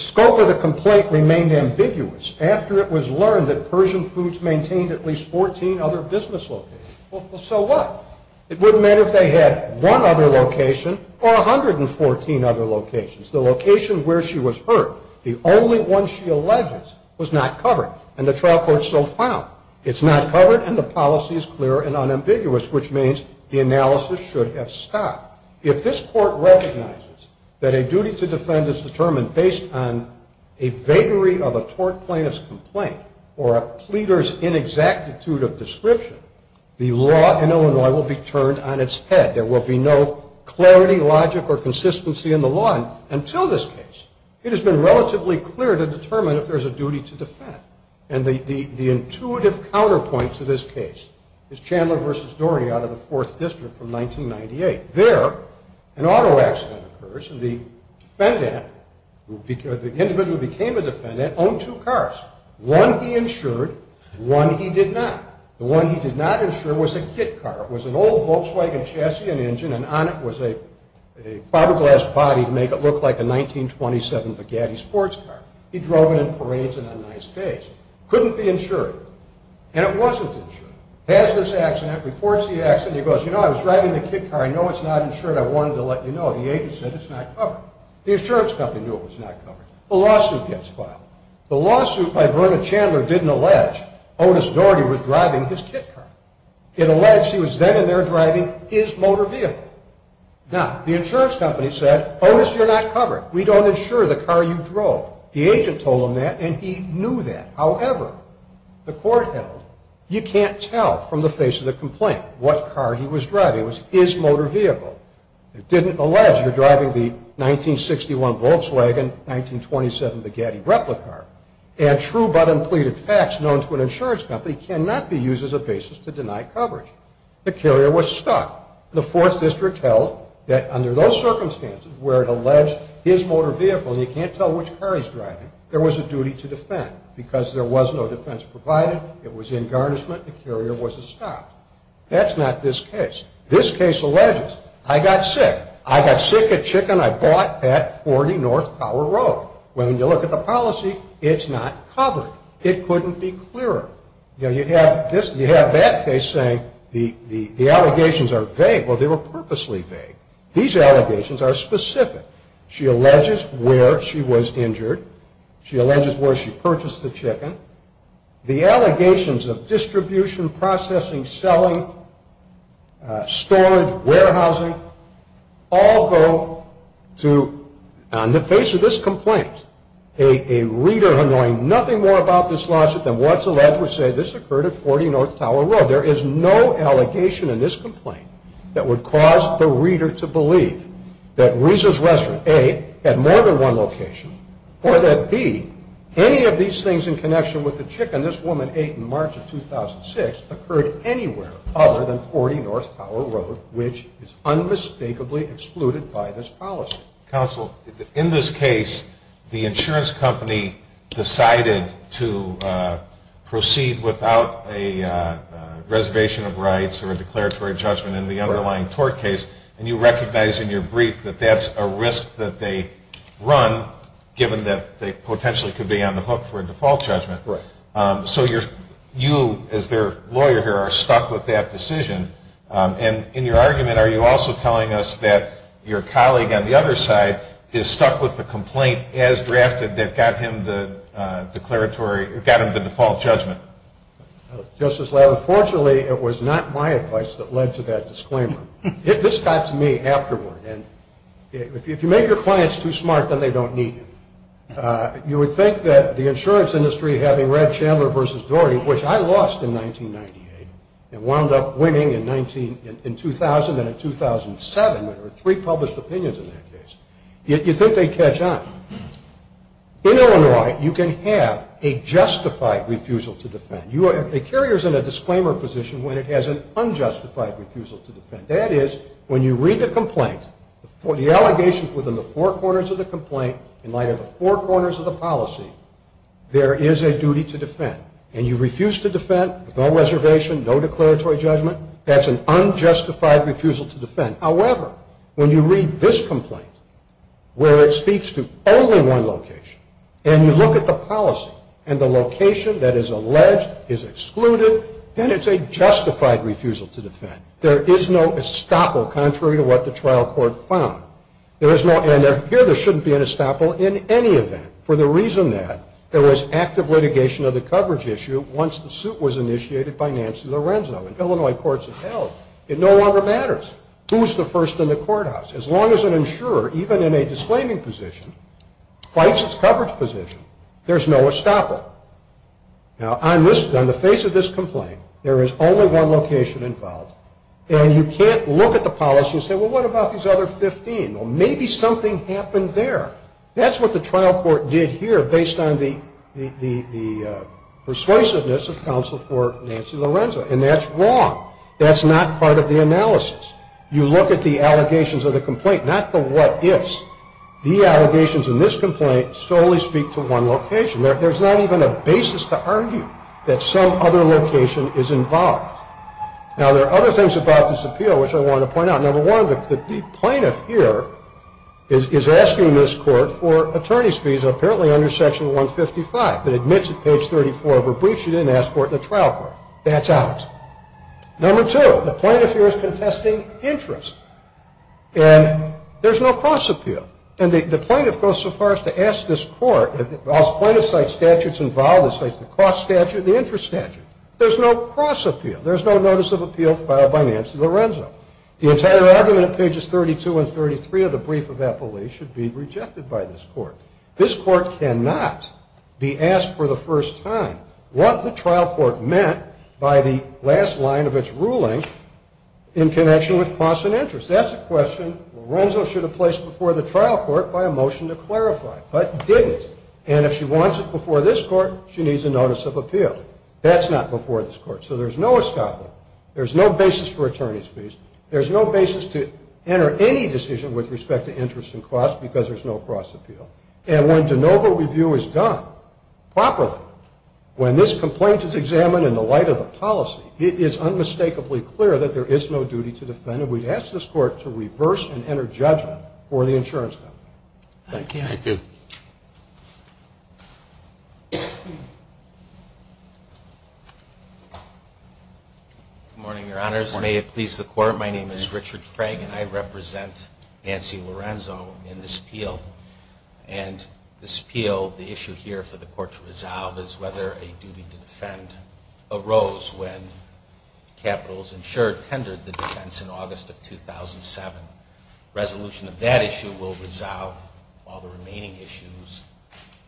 scope of the complaint remained ambiguous after it was learned that Persian Foods maintained at least 14 other business locations. Well, so what? It wouldn't matter if they had one other location or 114 other locations. The location where she was hurt, the only one she alleged was not covered. And the trial court so found it's not covered and the policy is clear and unambiguous, which means the analysis should have stopped. If this court recognizes that a duty to defend is determined based on a vagary of a court plaintiff's complaint or a pleader's inexactitude of description, the law in Illinois will be turned on its head. There will be no clarity, logic, or consistency in the law until this case. It has been relatively clear to determine if there's a duty to defend. And the intuitive counterpoint to this case is Chandler v. Doherty out of the Fourth District from 1998. There, an auto accident occurs and the defendant, the individual who became a defendant, owned two cars, one he insured, one he did not. The one he did not insure was a kit car. It was an old Volkswagen chassis, an engine, and on it was a fiberglass body to make it look like a 1927 Bugatti sports car. He drove it in parades and on nice days. Couldn't be insured. And it wasn't insured. Pass this accident, reports the accident, he goes, you know, I was driving the kit car, I know it's not insured, I wanted to let you know. The agent said it's not covered. The insurance company knew it was not covered. The lawsuit gets filed. The lawsuit by Verna Chandler didn't allege Otis Doherty was driving his kit car. It alleged he was then and there driving his motor vehicle. Now, the insurance company said, Otis, you're not covered. We don't insure the car you drove. The agent told him that and he knew that. However, the court held, you can't tell from the face of the complaint what car he was driving. It was his motor vehicle. It didn't allege he was driving the 1961 Volkswagen, 1927 Bugatti replica car. And true but unpleaded facts known to an insurance company cannot be used as a basis to deny coverage. The carrier was stuck. The Fourth District held that under those circumstances where it alleged his motor vehicle, and you can't tell which car he's driving, there was a duty to defend. Because there was no defense provided, it was in garnishment, the carrier was stopped. That's not this case. This case alleges, I got sick. I got sick of chicken I bought at 40 North Tower Road. When you look at the policy, it's not covered. It couldn't be cleared. You have that case saying the allegations are vague. Well, they were purposely vague. These allegations are specific. She alleges where she was injured. She alleges where she purchased the chicken. The allegations of distribution, processing, selling, storage, warehousing, all go to, on the face of this complaint, a reader knowing nothing more about this lawsuit than what's alleged, would say this occurred at 40 North Tower Road. There is no allegation in this complaint that would cause the reader to believe that Risa's restaurant, A, had more than one location, or that, B, any of these things in connection with the chicken this woman ate in March of 2006 occurred anywhere other than 40 North Tower Road, which is unmistakably excluded by this policy. Counsel, in this case, the insurance company decided to proceed without a reservation of rights or a declaratory judgment in the underlying tort case, and you recognize in your brief that that's a risk that they run, given that they potentially could be on the hook for a default judgment. Correct. So you, as their lawyer here, are stuck with that decision. And in your argument, are you also telling us that your colleague on the other side is stuck with the complaint as drafted that got him the default judgment? Justice Levin, fortunately, it was not my advice that led to that disclaimer. This got to me afterward. If you make your clients too smart, then they don't need you. You would think that the insurance industry, having read Chandler v. Doherty, which I lost in 1998 and wound up winning in 2000 and in 2007, there were three published opinions in that case, you think they'd catch on. In Illinois, you can have a justified refusal to defend. A carrier is in a disclaimer position when it has an unjustified refusal to defend. That is, when you read the complaint, the allegations within the four corners of the complaint, in light of the four corners of the policy, there is a duty to defend. And you refuse to defend, no reservation, no declaratory judgment, that's an unjustified refusal to defend. However, when you read this complaint, where it speaks to only one location, and you look at the policy and the location that is alleged, is excluded, then it's a justified refusal to defend. There is no estoppel contrary to what the trial court found. Here, there shouldn't be an estoppel in any event, for the reason that there was active litigation of the coverage issue once the suit was initiated by Nancy Lorenzo. In Illinois courts of health, it no longer matters who's the first in the courthouse. As long as an insurer, even in a disclaiming position, fights its coverage position, there's no estoppel. Now, on the face of this complaint, there is only one location involved, and you can't look at the policy and say, well, what about these other 15? Well, maybe something happened there. That's what the trial court did here, based on the persuasiveness of counsel for Nancy Lorenzo, and that's wrong. That's not part of the analysis. You look at the allegations of the complaint, not the what-ifs. The allegations in this complaint solely speak to one location. There's not even a basis to argue that some other location is involved. Now, there are other things about this appeal which I want to point out. Number one, the plaintiff here is asking this court for attorney's fees, apparently under Section 155, but admits at page 34 of her brief she didn't ask for it in the trial court. That's out. Number two, the plaintiff here is contesting interest, and there's no cost appeal. And the plaintiff goes so far as to ask this court, the plaintiff states statute's involved, it states the cost statute, the interest statute. There's no cost appeal. There's no notice of appeal filed by Nancy Lorenzo. The entire argument, pages 32 and 33 of the brief of affiliate, should be rejected by this court. This court cannot be asked for the first time what the trial court meant by the last line of its ruling in connection with cost and interest. If that's a question, Lorenzo should have placed it before the trial court by a motion to clarify, but didn't. And if she wants it before this court, she needs a notice of appeal. That's not before this court. So there's no escapement. There's no basis for attorney's fees. There's no basis to enter any decision with respect to interest and cost because there's no cost appeal. And when de novo review is done properly, when this complaint is examined in the light of a policy, it is unmistakably clear that there is no duty to defend it. So we ask this court to reverse and enter judgment for the insurance company. Thank you. Thank you. Good morning, Your Honors. May it please the court, my name is Richard Frank and I represent Nancy Lorenzo in this appeal. And this appeal, the issue here for the court to resolve, is whether a duty to defend arose when capitals insured tendered the defense in August of 2007. Resolution of that issue will resolve all the remaining issues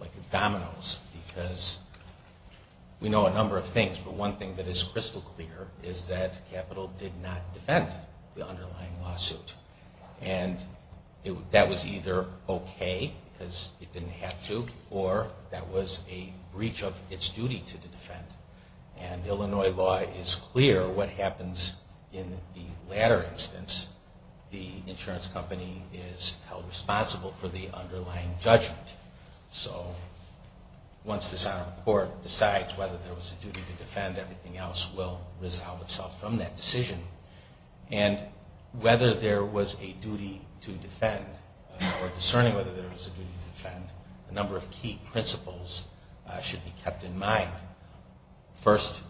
like the dominoes because we know a number of things, but one thing that is crystal clear is that capital did not defend the underlying lawsuit. And that was either okay because it didn't have to or that was a breach of its duty to defend. And Illinois law is clear what happens in the latter instance. The insurance company is held responsible for the underlying judgment. So once this is on the court, besides whether there was a duty to defend, everything else will resolve itself from that decision. And whether there was a duty to defend or discerning whether there was a duty to defend, a number of key principles should be kept in mind. First,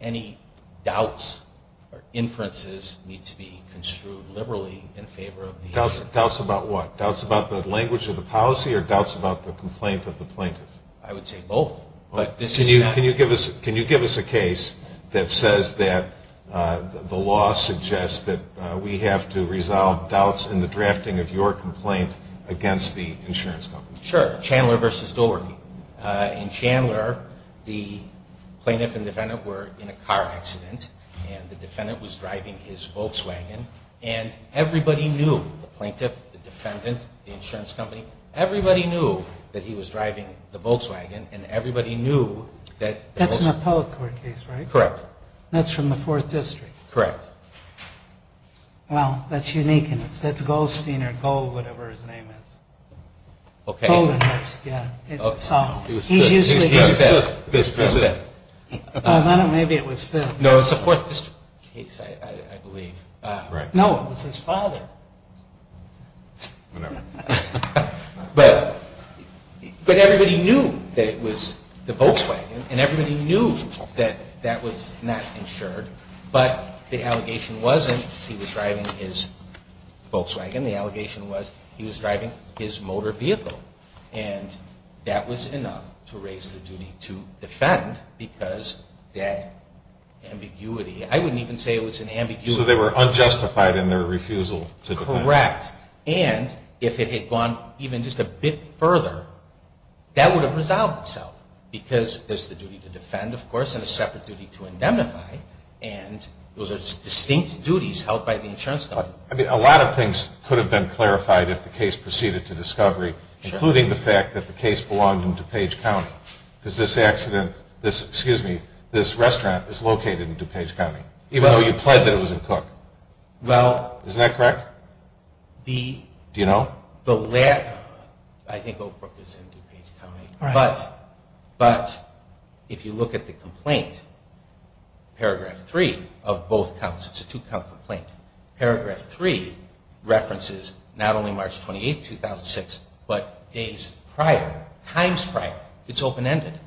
any doubts or inferences need to be construed liberally in favor of the hearing. Doubts about what? Doubts about the language of the policy or doubts about the complaint of the plaintiff? I would say both. Can you give us a case that says that the law suggests that we have to resolve doubts in the drafting of your complaint against the insurance company? Sure. Chandler v. Doherty. In Chandler, the plaintiff and defendant were in a car accident and the defendant was driving his Volkswagen and everybody knew, the plaintiff, the defendant, the insurance company, everybody knew that he was driving the Volkswagen and everybody knew that... That's an appellate court case, right? Correct. That's from the Fourth District. Correct. Well, that's unique. It's Goldstein or Gold, whatever his name is. Okay. Golding, yeah. He was fifth. He was president. Maybe it was fifth. No, it was the Fourth District case, I believe. No, it was his father. Whatever. But everybody knew that it was the Volkswagen and everybody knew that that was not insured, but the allegation wasn't he was driving his Volkswagen. The allegation was he was driving his motor vehicle and that was enough to raise the duty to defend because that ambiguity... I wouldn't even say it was an ambiguity. So they were unjustified in their refusal to defend. Correct. And if it had gone even just a bit further, that would have resolved itself because there's the duty to defend, of course, and a separate duty to indemnify, and those are distinct duties held by the insurance company. I mean, a lot of things could have been clarified if the case proceeded to discovery, including the fact that the case belonged in DuPage County because this restaurant is located in DuPage County, even though you pled that it was a cook. Well... Isn't that correct? Do you know? No. The lab... I think Oak Brook was in DuPage County. Right. But if you look at the complaint, paragraph three of both counts, it's a two-count complaint. Paragraph three references not only March 28, 2006, but days prior, times prior. It's open-ended.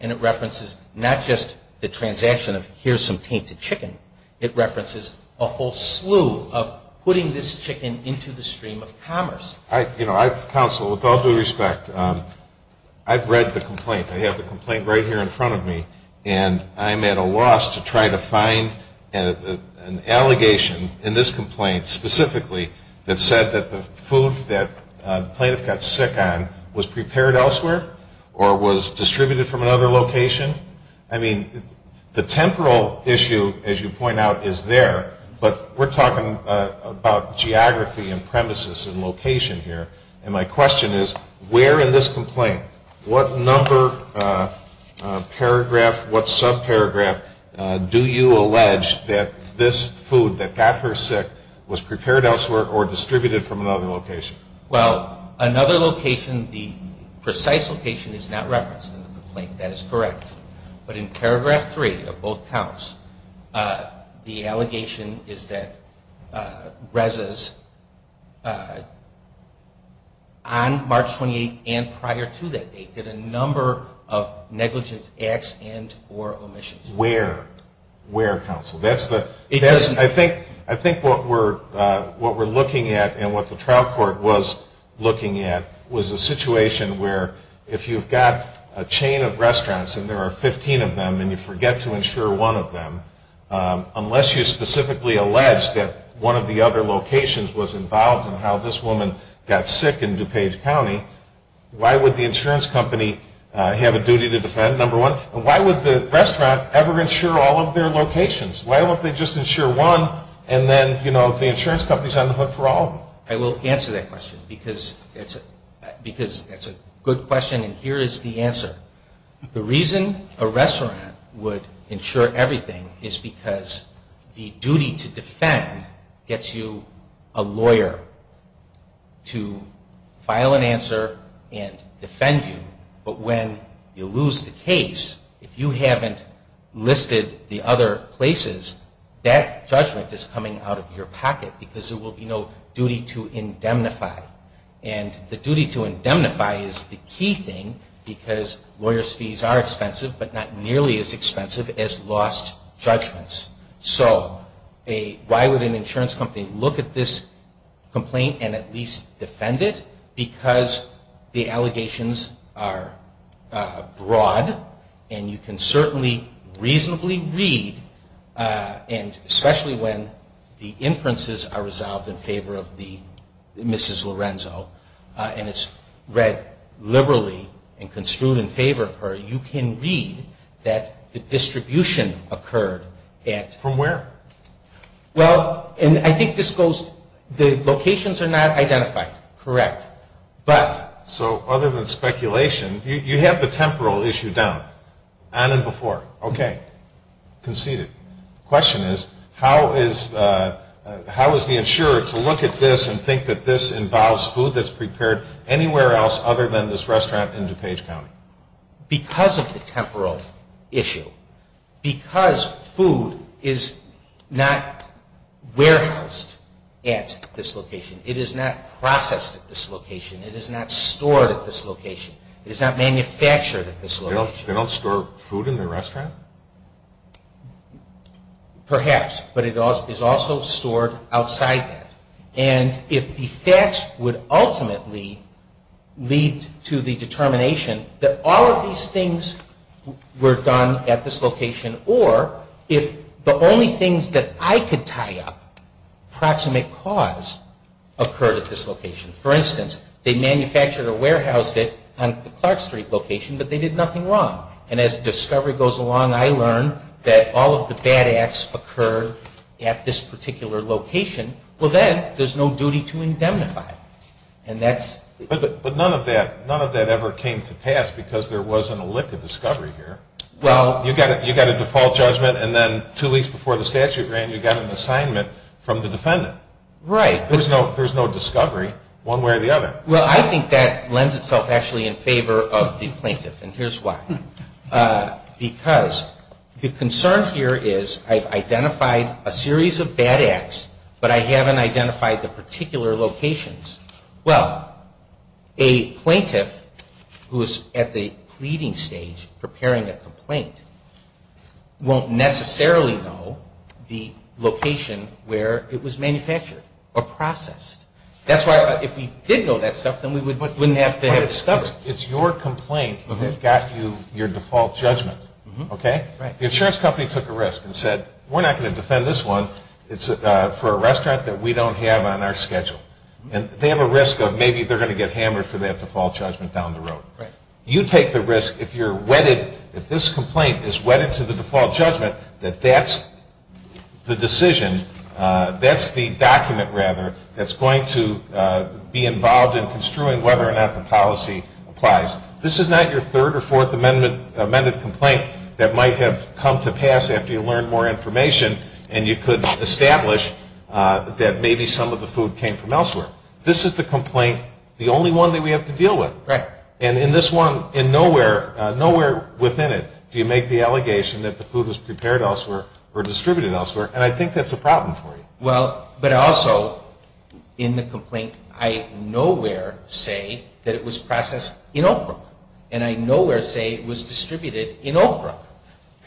And it references not just the transaction of here's some tainted chicken. It references a whole slew of putting this chicken into the stream of commerce. You know, counsel, with all due respect, I've read the complaint. I have the complaint right here in front of me, and I'm at a loss to try to find an allegation in this complaint specifically that said that the food that the plaintiff got sick on was prepared elsewhere or was distributed from another location. I mean, the temporal issue, as you point out, is there, but we're talking about geography and premises and location here, and my question is where in this complaint, what number paragraph, what subparagraph, do you allege that this food that got her sick was prepared elsewhere or distributed from another location? Well, another location, the precise location is not referenced in the complaint. That is correct. But in paragraph three of both counts, the allegation is that Reza's on March 28th and prior to that date did a number of negligent acts and or omissions. Where? Where, counsel? I think what we're looking at and what the trial court was looking at was a situation where if you've got a chain of restaurants and there are 15 of them and you forget to insure one of them, unless you specifically allege that one of the other locations was involved in how this woman got sick in DuPage County, why would the insurance company have a duty to defend, number one? Why would the restaurant ever insure all of their locations? Why would they just insure one and then the insurance company is on the hook for all of them? I will answer that question because it's a good question and here is the answer. The reason a restaurant would insure everything is because the duty to defend gets you a lawyer to file an answer and defend you. But when you lose the case, if you haven't listed the other places, that judgment is coming out of your pocket because there will be no duty to indemnify. And the duty to indemnify is the key thing because lawyer's fees are expensive but not nearly as expensive as lost judgments. So why would an insurance company look at this complaint and at least defend it? Because the allegations are broad and you can certainly reasonably read and especially when the inferences are resolved in favor of the Mrs. Lorenzo and it's read liberally and construed in favor of her, you can read that the distribution occurred at... From where? Well, and I think this goes... The locations are not identified. Correct. But... So other than speculation, you have the temporal issue down. On and before. Okay. Conceded. The question is, how is the insurer to look at this and think that this involves food that's prepared anywhere else other than this restaurant in DuPage County? Because of the temporal issue. Because food is not warehoused at this location. It is not processed at this location. It is not stored at this location. It is not manufactured at this location. They don't store food in their restaurant? Perhaps. But it is also stored outside that. And if the facts would ultimately lead to the determination that all of these things were done at this location or if the only things that I could tie up, proximate cause, occurred at this location. For instance, they manufactured or warehoused it on Clark Street location, but they did nothing wrong. And as discovery goes along, I learn that all of the bad acts occurred at this particular location. Well, then, there's no duty to indemnify. But none of that ever came to pass because there wasn't a lick of discovery here. You got a default judgment and then two weeks before the statute ran, you got an assignment from the defendant. Right. There's no discovery one way or the other. Well, I think that lends itself actually in favor of the plaintiff. And here's why. Because the concern here is I've identified a series of bad acts, but I haven't identified the particular locations. Well, a plaintiff who is at the pleading stage, preparing a complaint, won't necessarily know the location where it was manufactured or processed. That's why if we did know that stuff, then we wouldn't have to have discovered it. It's your complaint that got you your default judgment. The insurance company took a risk and said, we're not going to defend this one. It's for a restaurant that we don't have on our schedule. And they have a risk of maybe they're going to get hammered for that default judgment down the road. Right. You take the risk if you're wedded, if this complaint is wedded to the default judgment, that that's the decision, that's the document, rather, that's going to be involved in construing whether or not the policy applies. This is not your third or fourth amended complaint that might have come to pass after you learned more information and you could establish that maybe some of the food came from elsewhere. This is the complaint, the only one that we have to deal with. Right. And in this one, nowhere within it do you make the allegation that the food was prepared elsewhere or distributed elsewhere, and I think that's a problem for you. Well, but also, in the complaint, I nowhere say that it was processed in Oakland, and I nowhere say it was distributed in Oakland.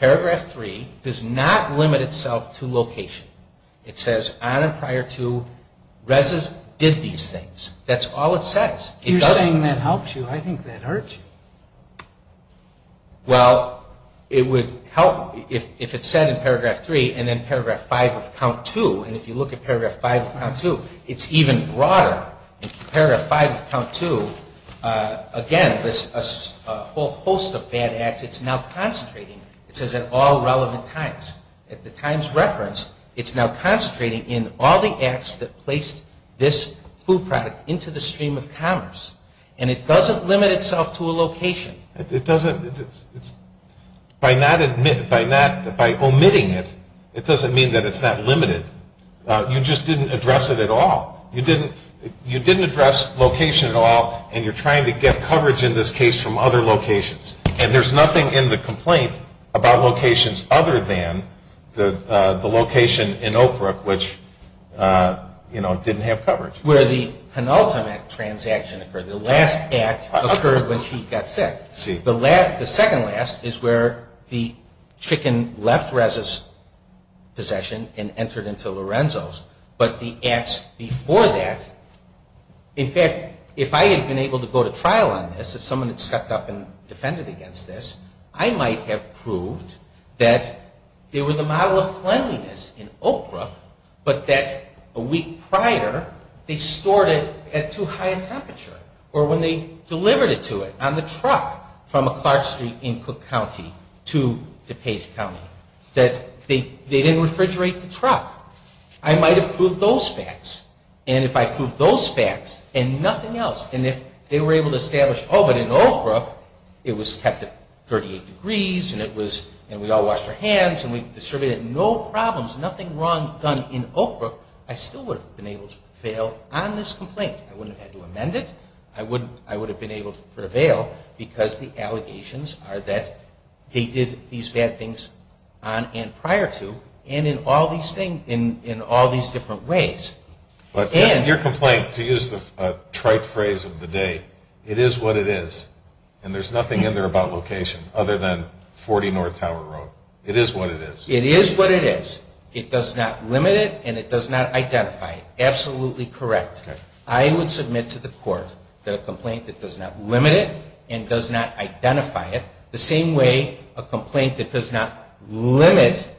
Paragraph 3 does not limit itself to location. It says, on and prior to, Reza did these things. That's all it says. You're saying that helps you. I think that hurts you. Well, it would help if it said in Paragraph 3 and then Paragraph 5 of Count 2, and if you look at Paragraph 5 of Count 2, it's even broader. If you look at Paragraph 5 of Count 2, again, there's a whole host of bad acts. It's now concentrating. It says, at all relevant times. At the times referenced, it's now concentrating in all the acts that placed this food product into the stream of commerce, and it doesn't limit itself to a location. It doesn't. By not admitting, by omitting it, it doesn't mean that it's not limited. You just didn't address it at all. You didn't address location at all, and you're trying to get coverage in this case from other locations, and there's nothing in the complaint about locations other than the location in Oak Brook, which didn't have coverage. Where the penultimate transaction occurred, the last act occurred when she got sick. The second last is where the chicken left Reza's possession and entered into Lorenzo's, but the acts before that, in fact, if I had been able to go to trial on this, if someone had stepped up and defended against this, I might have proved that there was a model of cleanliness in Oak Brook, but that a week prior, they stored it at too high a temperature, or when they delivered it to it on the truck from Clark Street in Cook County to DePage County, that they didn't refrigerate the truck. I might have proved those facts, and if I proved those facts and nothing else, and if they were able to establish, oh, but in Oak Brook, it was kept at 38 degrees, and we all washed our hands, and we distributed no problems, nothing wrong done in Oak Brook, I still would have been able to prevail on this complaint. I wouldn't have had to amend it. I would have been able to prevail, because the allegations are that they did these bad things on and prior to, and in all these different ways. Your complaint, to use the trite phrase of the day, it is what it is, and there's nothing in there about location other than 40 North Tower Road. It is what it is. It is what it is. It does not limit it, and it does not identify it. Absolutely correct. I would submit to the court that a complaint that does not limit it and does not identify it, the same way a complaint that does not limit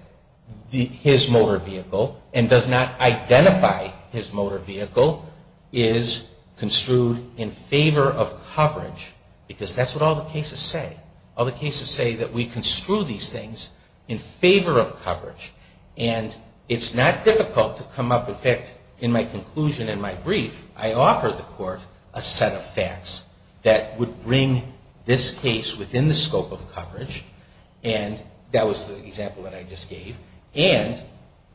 his motor vehicle and does not identify his motor vehicle, is construed in favor of coverage, because that's what all the cases say. All the cases say that we construe these things in favor of coverage, and it's not difficult to come up with that. In my conclusion in my brief, I offered the court a set of facts that would bring this case within the scope of coverage, and that was the example that I just gave, and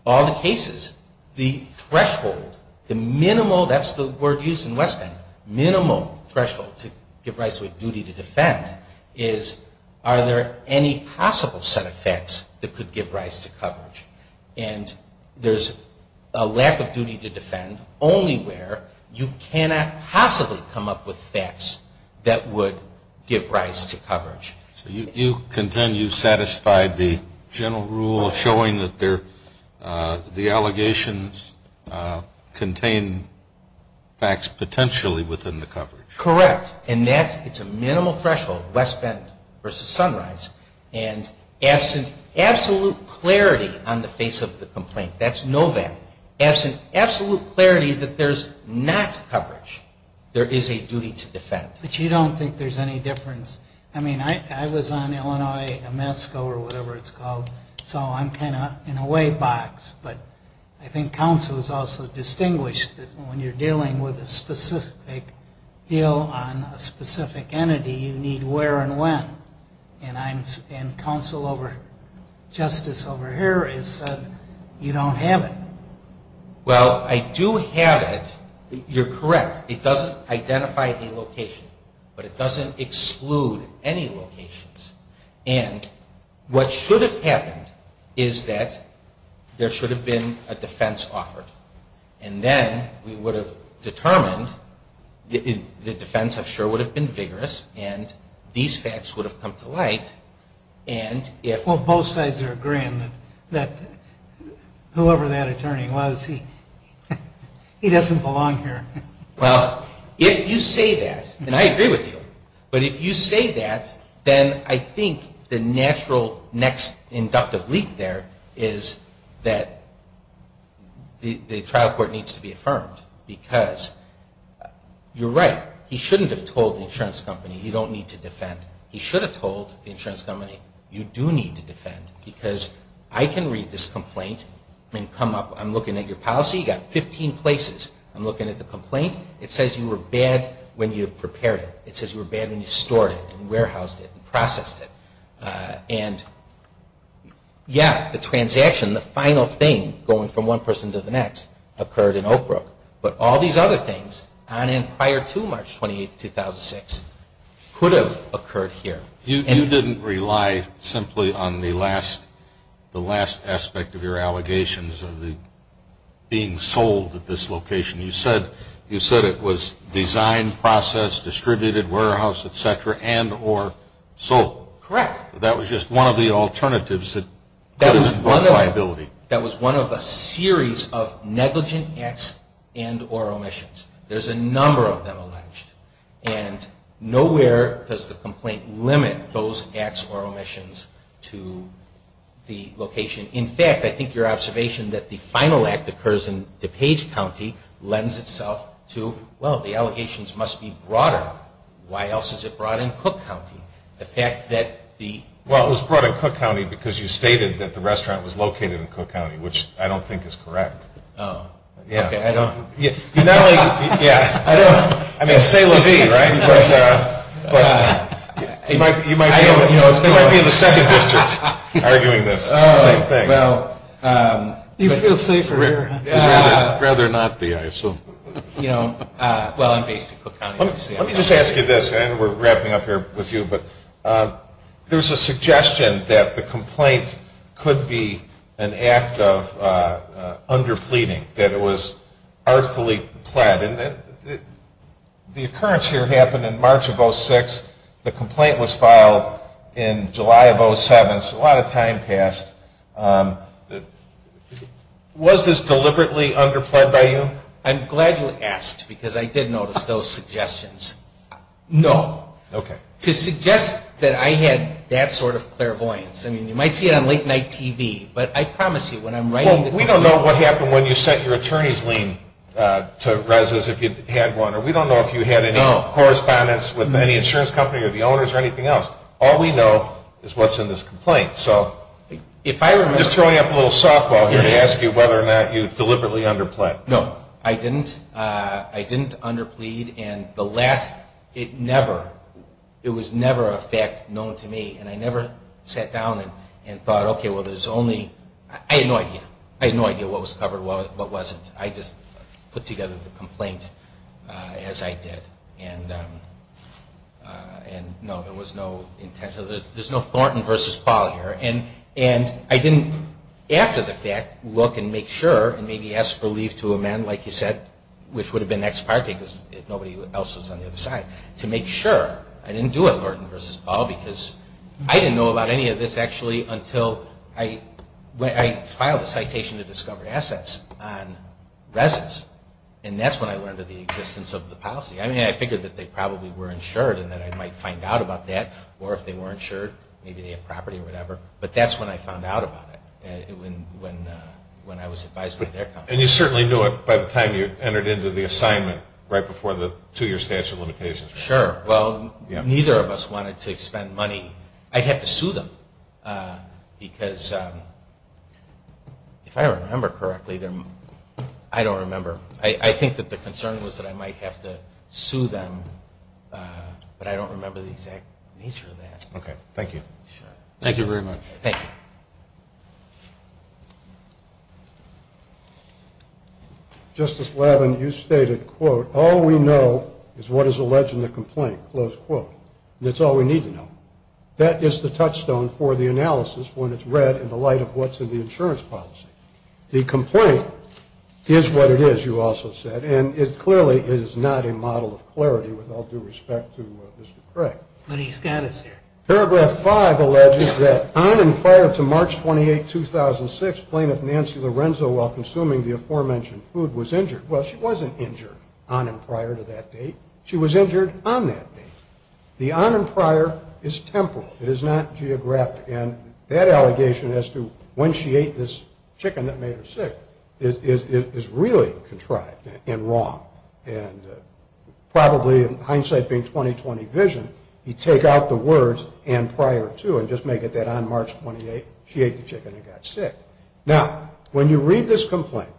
all the cases, the threshold, the minimal, that's the word used in West End, minimal threshold to give rise to a duty to defend, is are there any possible set of facts that could give rise to coverage, and there's a lack of duty to defend only where you cannot possibly come up with facts that would give rise to coverage. You contend you satisfied the general rule showing that the allegations contain facts potentially within the coverage. Correct, and that's a minimal threshold, West End versus Sunrise, and absent absolute clarity on the face of the complaint, that's no value. Absent absolute clarity that there's not coverage, there is a duty to defend. But you don't think there's any difference? I mean, I was on Illinois, MSCO or whatever it's called, so I'm kind of in a wave box, but I think counsel is also distinguished that when you're dealing with a specific deal on a specific entity, you need where and when, and counsel over justice over here has said you don't have it. Well, I do have it. You're correct. It doesn't identify the location, but it doesn't exclude any locations, and what should have happened is that there should have been a defense offered, and then we would have determined the defense, I'm sure, would have been vigorous, and these facts would have come to light. Well, both sides are agreeing that whoever that attorney was, he doesn't belong here. Well, if you say that, and I agree with you, but if you say that, then I think the natural next inductive leap there is that the trial court needs to be affirmed, because you're right. He shouldn't have told the insurance company you don't need to defend. He should have told the insurance company you do need to defend, because I can read this complaint and come up. I'm looking at your policy. You've got 15 places. I'm looking at the complaint. It says you were bad when you prepared it. It says you were bad when you stored it and warehoused it and processed it, and yes, the transaction, the final thing, going from one person to the next, occurred in Oak Brook, but all these other things, prior to March 28, 2006, could have occurred here. You didn't rely simply on the last aspect of your allegations of it being sold at this location. You said it was designed, processed, distributed, warehoused, et cetera, and or sold. Correct. That was just one of the alternatives. That was one of a series of negligent acts and or omissions. There's a number of them alleged, and nowhere does the complaint limit those acts or omissions to the location. In fact, I think your observation that the final act occurs in DuPage County lends itself to, well, the allegations must be broader. Why else is it broad in Cook County? Well, it was broad in Cook County because you stated that the restaurant was located in Cook County, which I don't think is correct. Oh. Yeah. I don't. Yeah. I mean, say it was me, right? But you might be in the second district arguing this thing. Oh, well. Do you feel safer here? I'd rather not be here, so. You know, well, I'm based in Cook County. Let me just ask you this, and we're wrapping up here with you, but there's a suggestion that the complaint could be an act of under pleading, that it was artfully pled. And the occurrence here happened in March of 06. The complaint was filed in July of 07, so a lot of time passed. Was this deliberately under pled by you? I'm glad you asked, because I did notice those suggestions. No. Okay. To suggest that I had that sort of clairvoyance, I mean, you might see it on late-night TV, but I promise you when I'm writing the complaint. Well, we don't know what happened when you sent your attorney's lien to residents if you had one, or we don't know if you had any correspondence with any insurance company or the owners or anything else. All we know is what's in this complaint, so. Just throwing up a little softball here to ask you whether or not you deliberately under pled. No, I didn't. I didn't under plead, and the last, it never, it was never a fact known to me, and I never sat down and thought, okay, well, there's only, I had no idea. I had no idea what was covered, what wasn't. I just put together the complaint as I did, and no, there was no intent. And I didn't, after the fact, look and make sure and maybe ask for leave to amend, like you said, which would have been ex parte because nobody else was on the other side, to make sure. I didn't do it, Lorton v. Ball, because I didn't know about any of this actually until I, when I filed a citation to discover assets on residents, and that's when I learned of the existence of the policy. I mean, I figured that they probably were insured and that I might find out about that, or if they were insured, maybe they had property or whatever, but that's when I found out about it, when I was advised by their company. And you certainly knew it by the time you entered into the assignment, right before the two-year statute of limitations. Sure. Well, neither of us wanted to expend money. I had to sue them because, if I remember correctly, I don't remember. I think that the concern was that I might have to sue them, but I don't remember the exact nature of that. Okay. Thank you. Thank you very much. Thank you. Justice Lavin, you stated, quote, All we know is what is alleged in the complaint, close quote. That's all we need to know. That is the touchstone for the analysis when it's read in the light of what's in the insurance policy. The complaint is what it is, you also said, and it clearly is not a model of clarity with all due respect to Mr. Frederick. What do you stand to say? Paragraph 5 alleges that on and prior to March 28, 2006, plaintiff Nancy Lorenzo, while consuming the aforementioned food, was injured. Well, she wasn't injured on and prior to that date. She was injured on that date. The on and prior is temporal. It is not geographic. And that allegation as to when she ate this chicken that made her sick is really contrived and wrong, and probably in hindsight being 20-20 vision, you take out the words and prior to and just make it that on March 28, she ate the chicken and got sick. Now, when you read this complaint,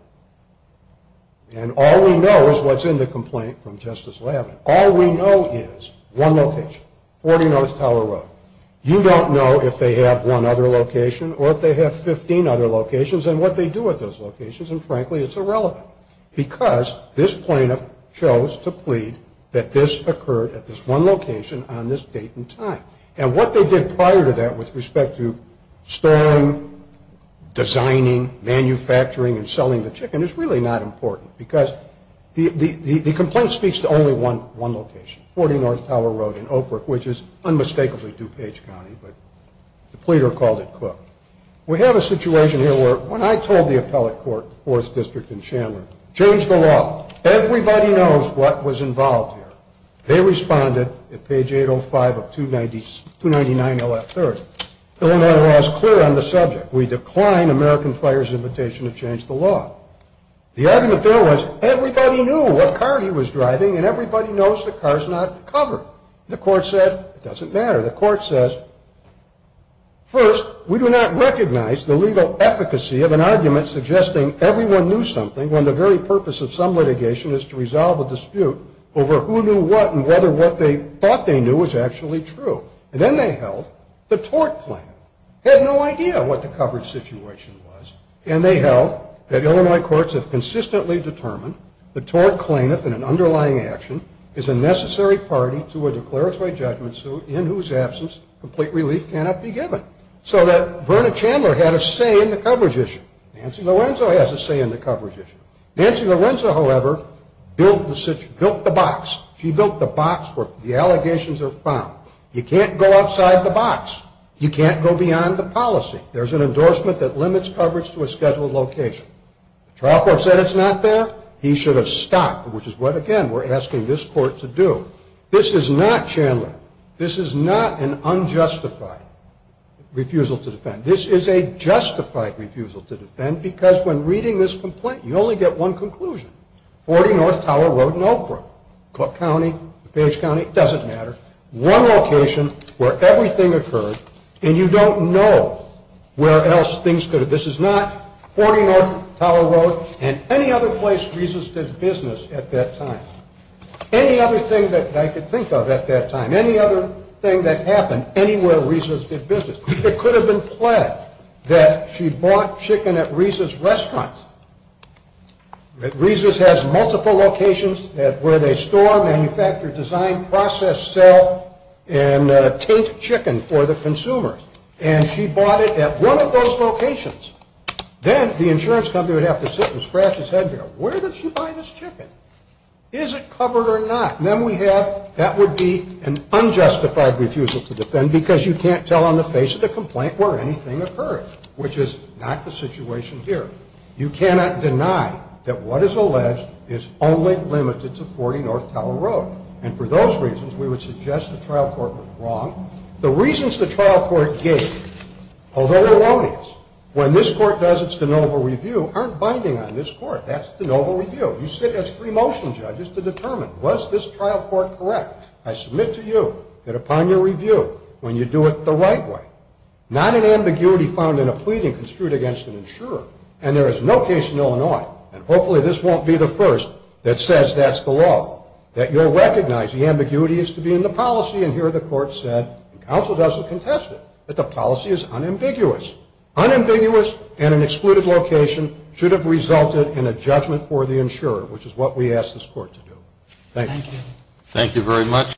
and all we know is what's in the complaint from Justice Lavin, all we know is one location, 40 North Teller Road. You don't know if they have one other location or if they have 15 other locations and what they do at those locations, and frankly, it's irrelevant. Because this plaintiff chose to plead that this occurred at this one location on this date and time. And what they did prior to that with respect to storing, designing, manufacturing, and selling the chicken is really not important because the complaint speaks to only one location, 40 North Teller Road in Oakbrook, which is unmistakably DuPage County, but the pleader called it Cook. We have a situation here where when I told the appellate court, 4th District in Chandler, change the law. Everybody knows what was involved here. They responded at page 805 of 299 L.S. 30. So then I was clear on the subject. We decline American Fire's invitation to change the law. The argument there was everybody knew what car he was driving and everybody knows the car's not covered. The court said, it doesn't matter. The court says, first, we do not recognize the legal efficacy of an argument suggesting everyone knew something when the very purpose of some litigation is to resolve a dispute over who knew what and whether what they thought they knew was actually true. And then they held the tort claim. They had no idea what the covered situation was. And they held that Illinois courts have consistently determined the tort claimant in an underlying action is a necessary party to a declaratory judgment suit in whose absence complete relief cannot be given. So that Verna Chandler had a say in the coverage issue. Nancy Lorenzo has a say in the coverage issue. Nancy Lorenzo, however, built the box. She built the box where the allegations are found. You can't go outside the box. You can't go beyond the policy. There's an endorsement that limits coverage to a scheduled location. The trial court said it's not there. He should have stopped, which is what, again, we're asking this court to do. This is not Chandler. This is not an unjustified refusal to defend. This is a justified refusal to defend because when reading this complaint, you only get one conclusion. Forty North Tower Road in Oak Grove, Cook County, Page County, it doesn't matter, one location where everything occurred, and you don't know where else things could have been. This is not Forty North Tower Road and any other place Reza's did business at that time. Any other thing that I could think of at that time, any other thing that happened anywhere Reza's did business. It could have been pledged that she bought chicken at Reza's restaurant. Reza's has multiple locations where they store, manufacture, design, process, sell, and take chicken for the consumer. And she bought it at one of those locations. Then the insurance company would have to sit and scratch its head there. Where did she buy this chicken? Is it covered or not? Then we have that would be an unjustified refusal to defend because you can't tell on the face of the complaint where anything occurred, which is not the situation here. You cannot deny that what is alleged is only limited to Forty North Tower Road. And for those reasons, we would suggest the trial court was wrong. The reasons the trial court gave, although they're longings, when this court does its de novo review, aren't binding on this court. That's de novo review. You sit as three motion judges to determine, was this trial court correct? I submit to you that upon your review, when you do it the right way, not an ambiguity found in a pleading construed against an insurer. And there is no case in Illinois, and hopefully this won't be the first, that says that's the law, that you'll recognize the ambiguity is to be in the policy. And here the court said, and counsel doesn't contest it, that the policy is unambiguous. Unambiguous and an excluded location should have resulted in a judgment for the insurer, which is what we ask this court to do. Thank you. Thank you very much.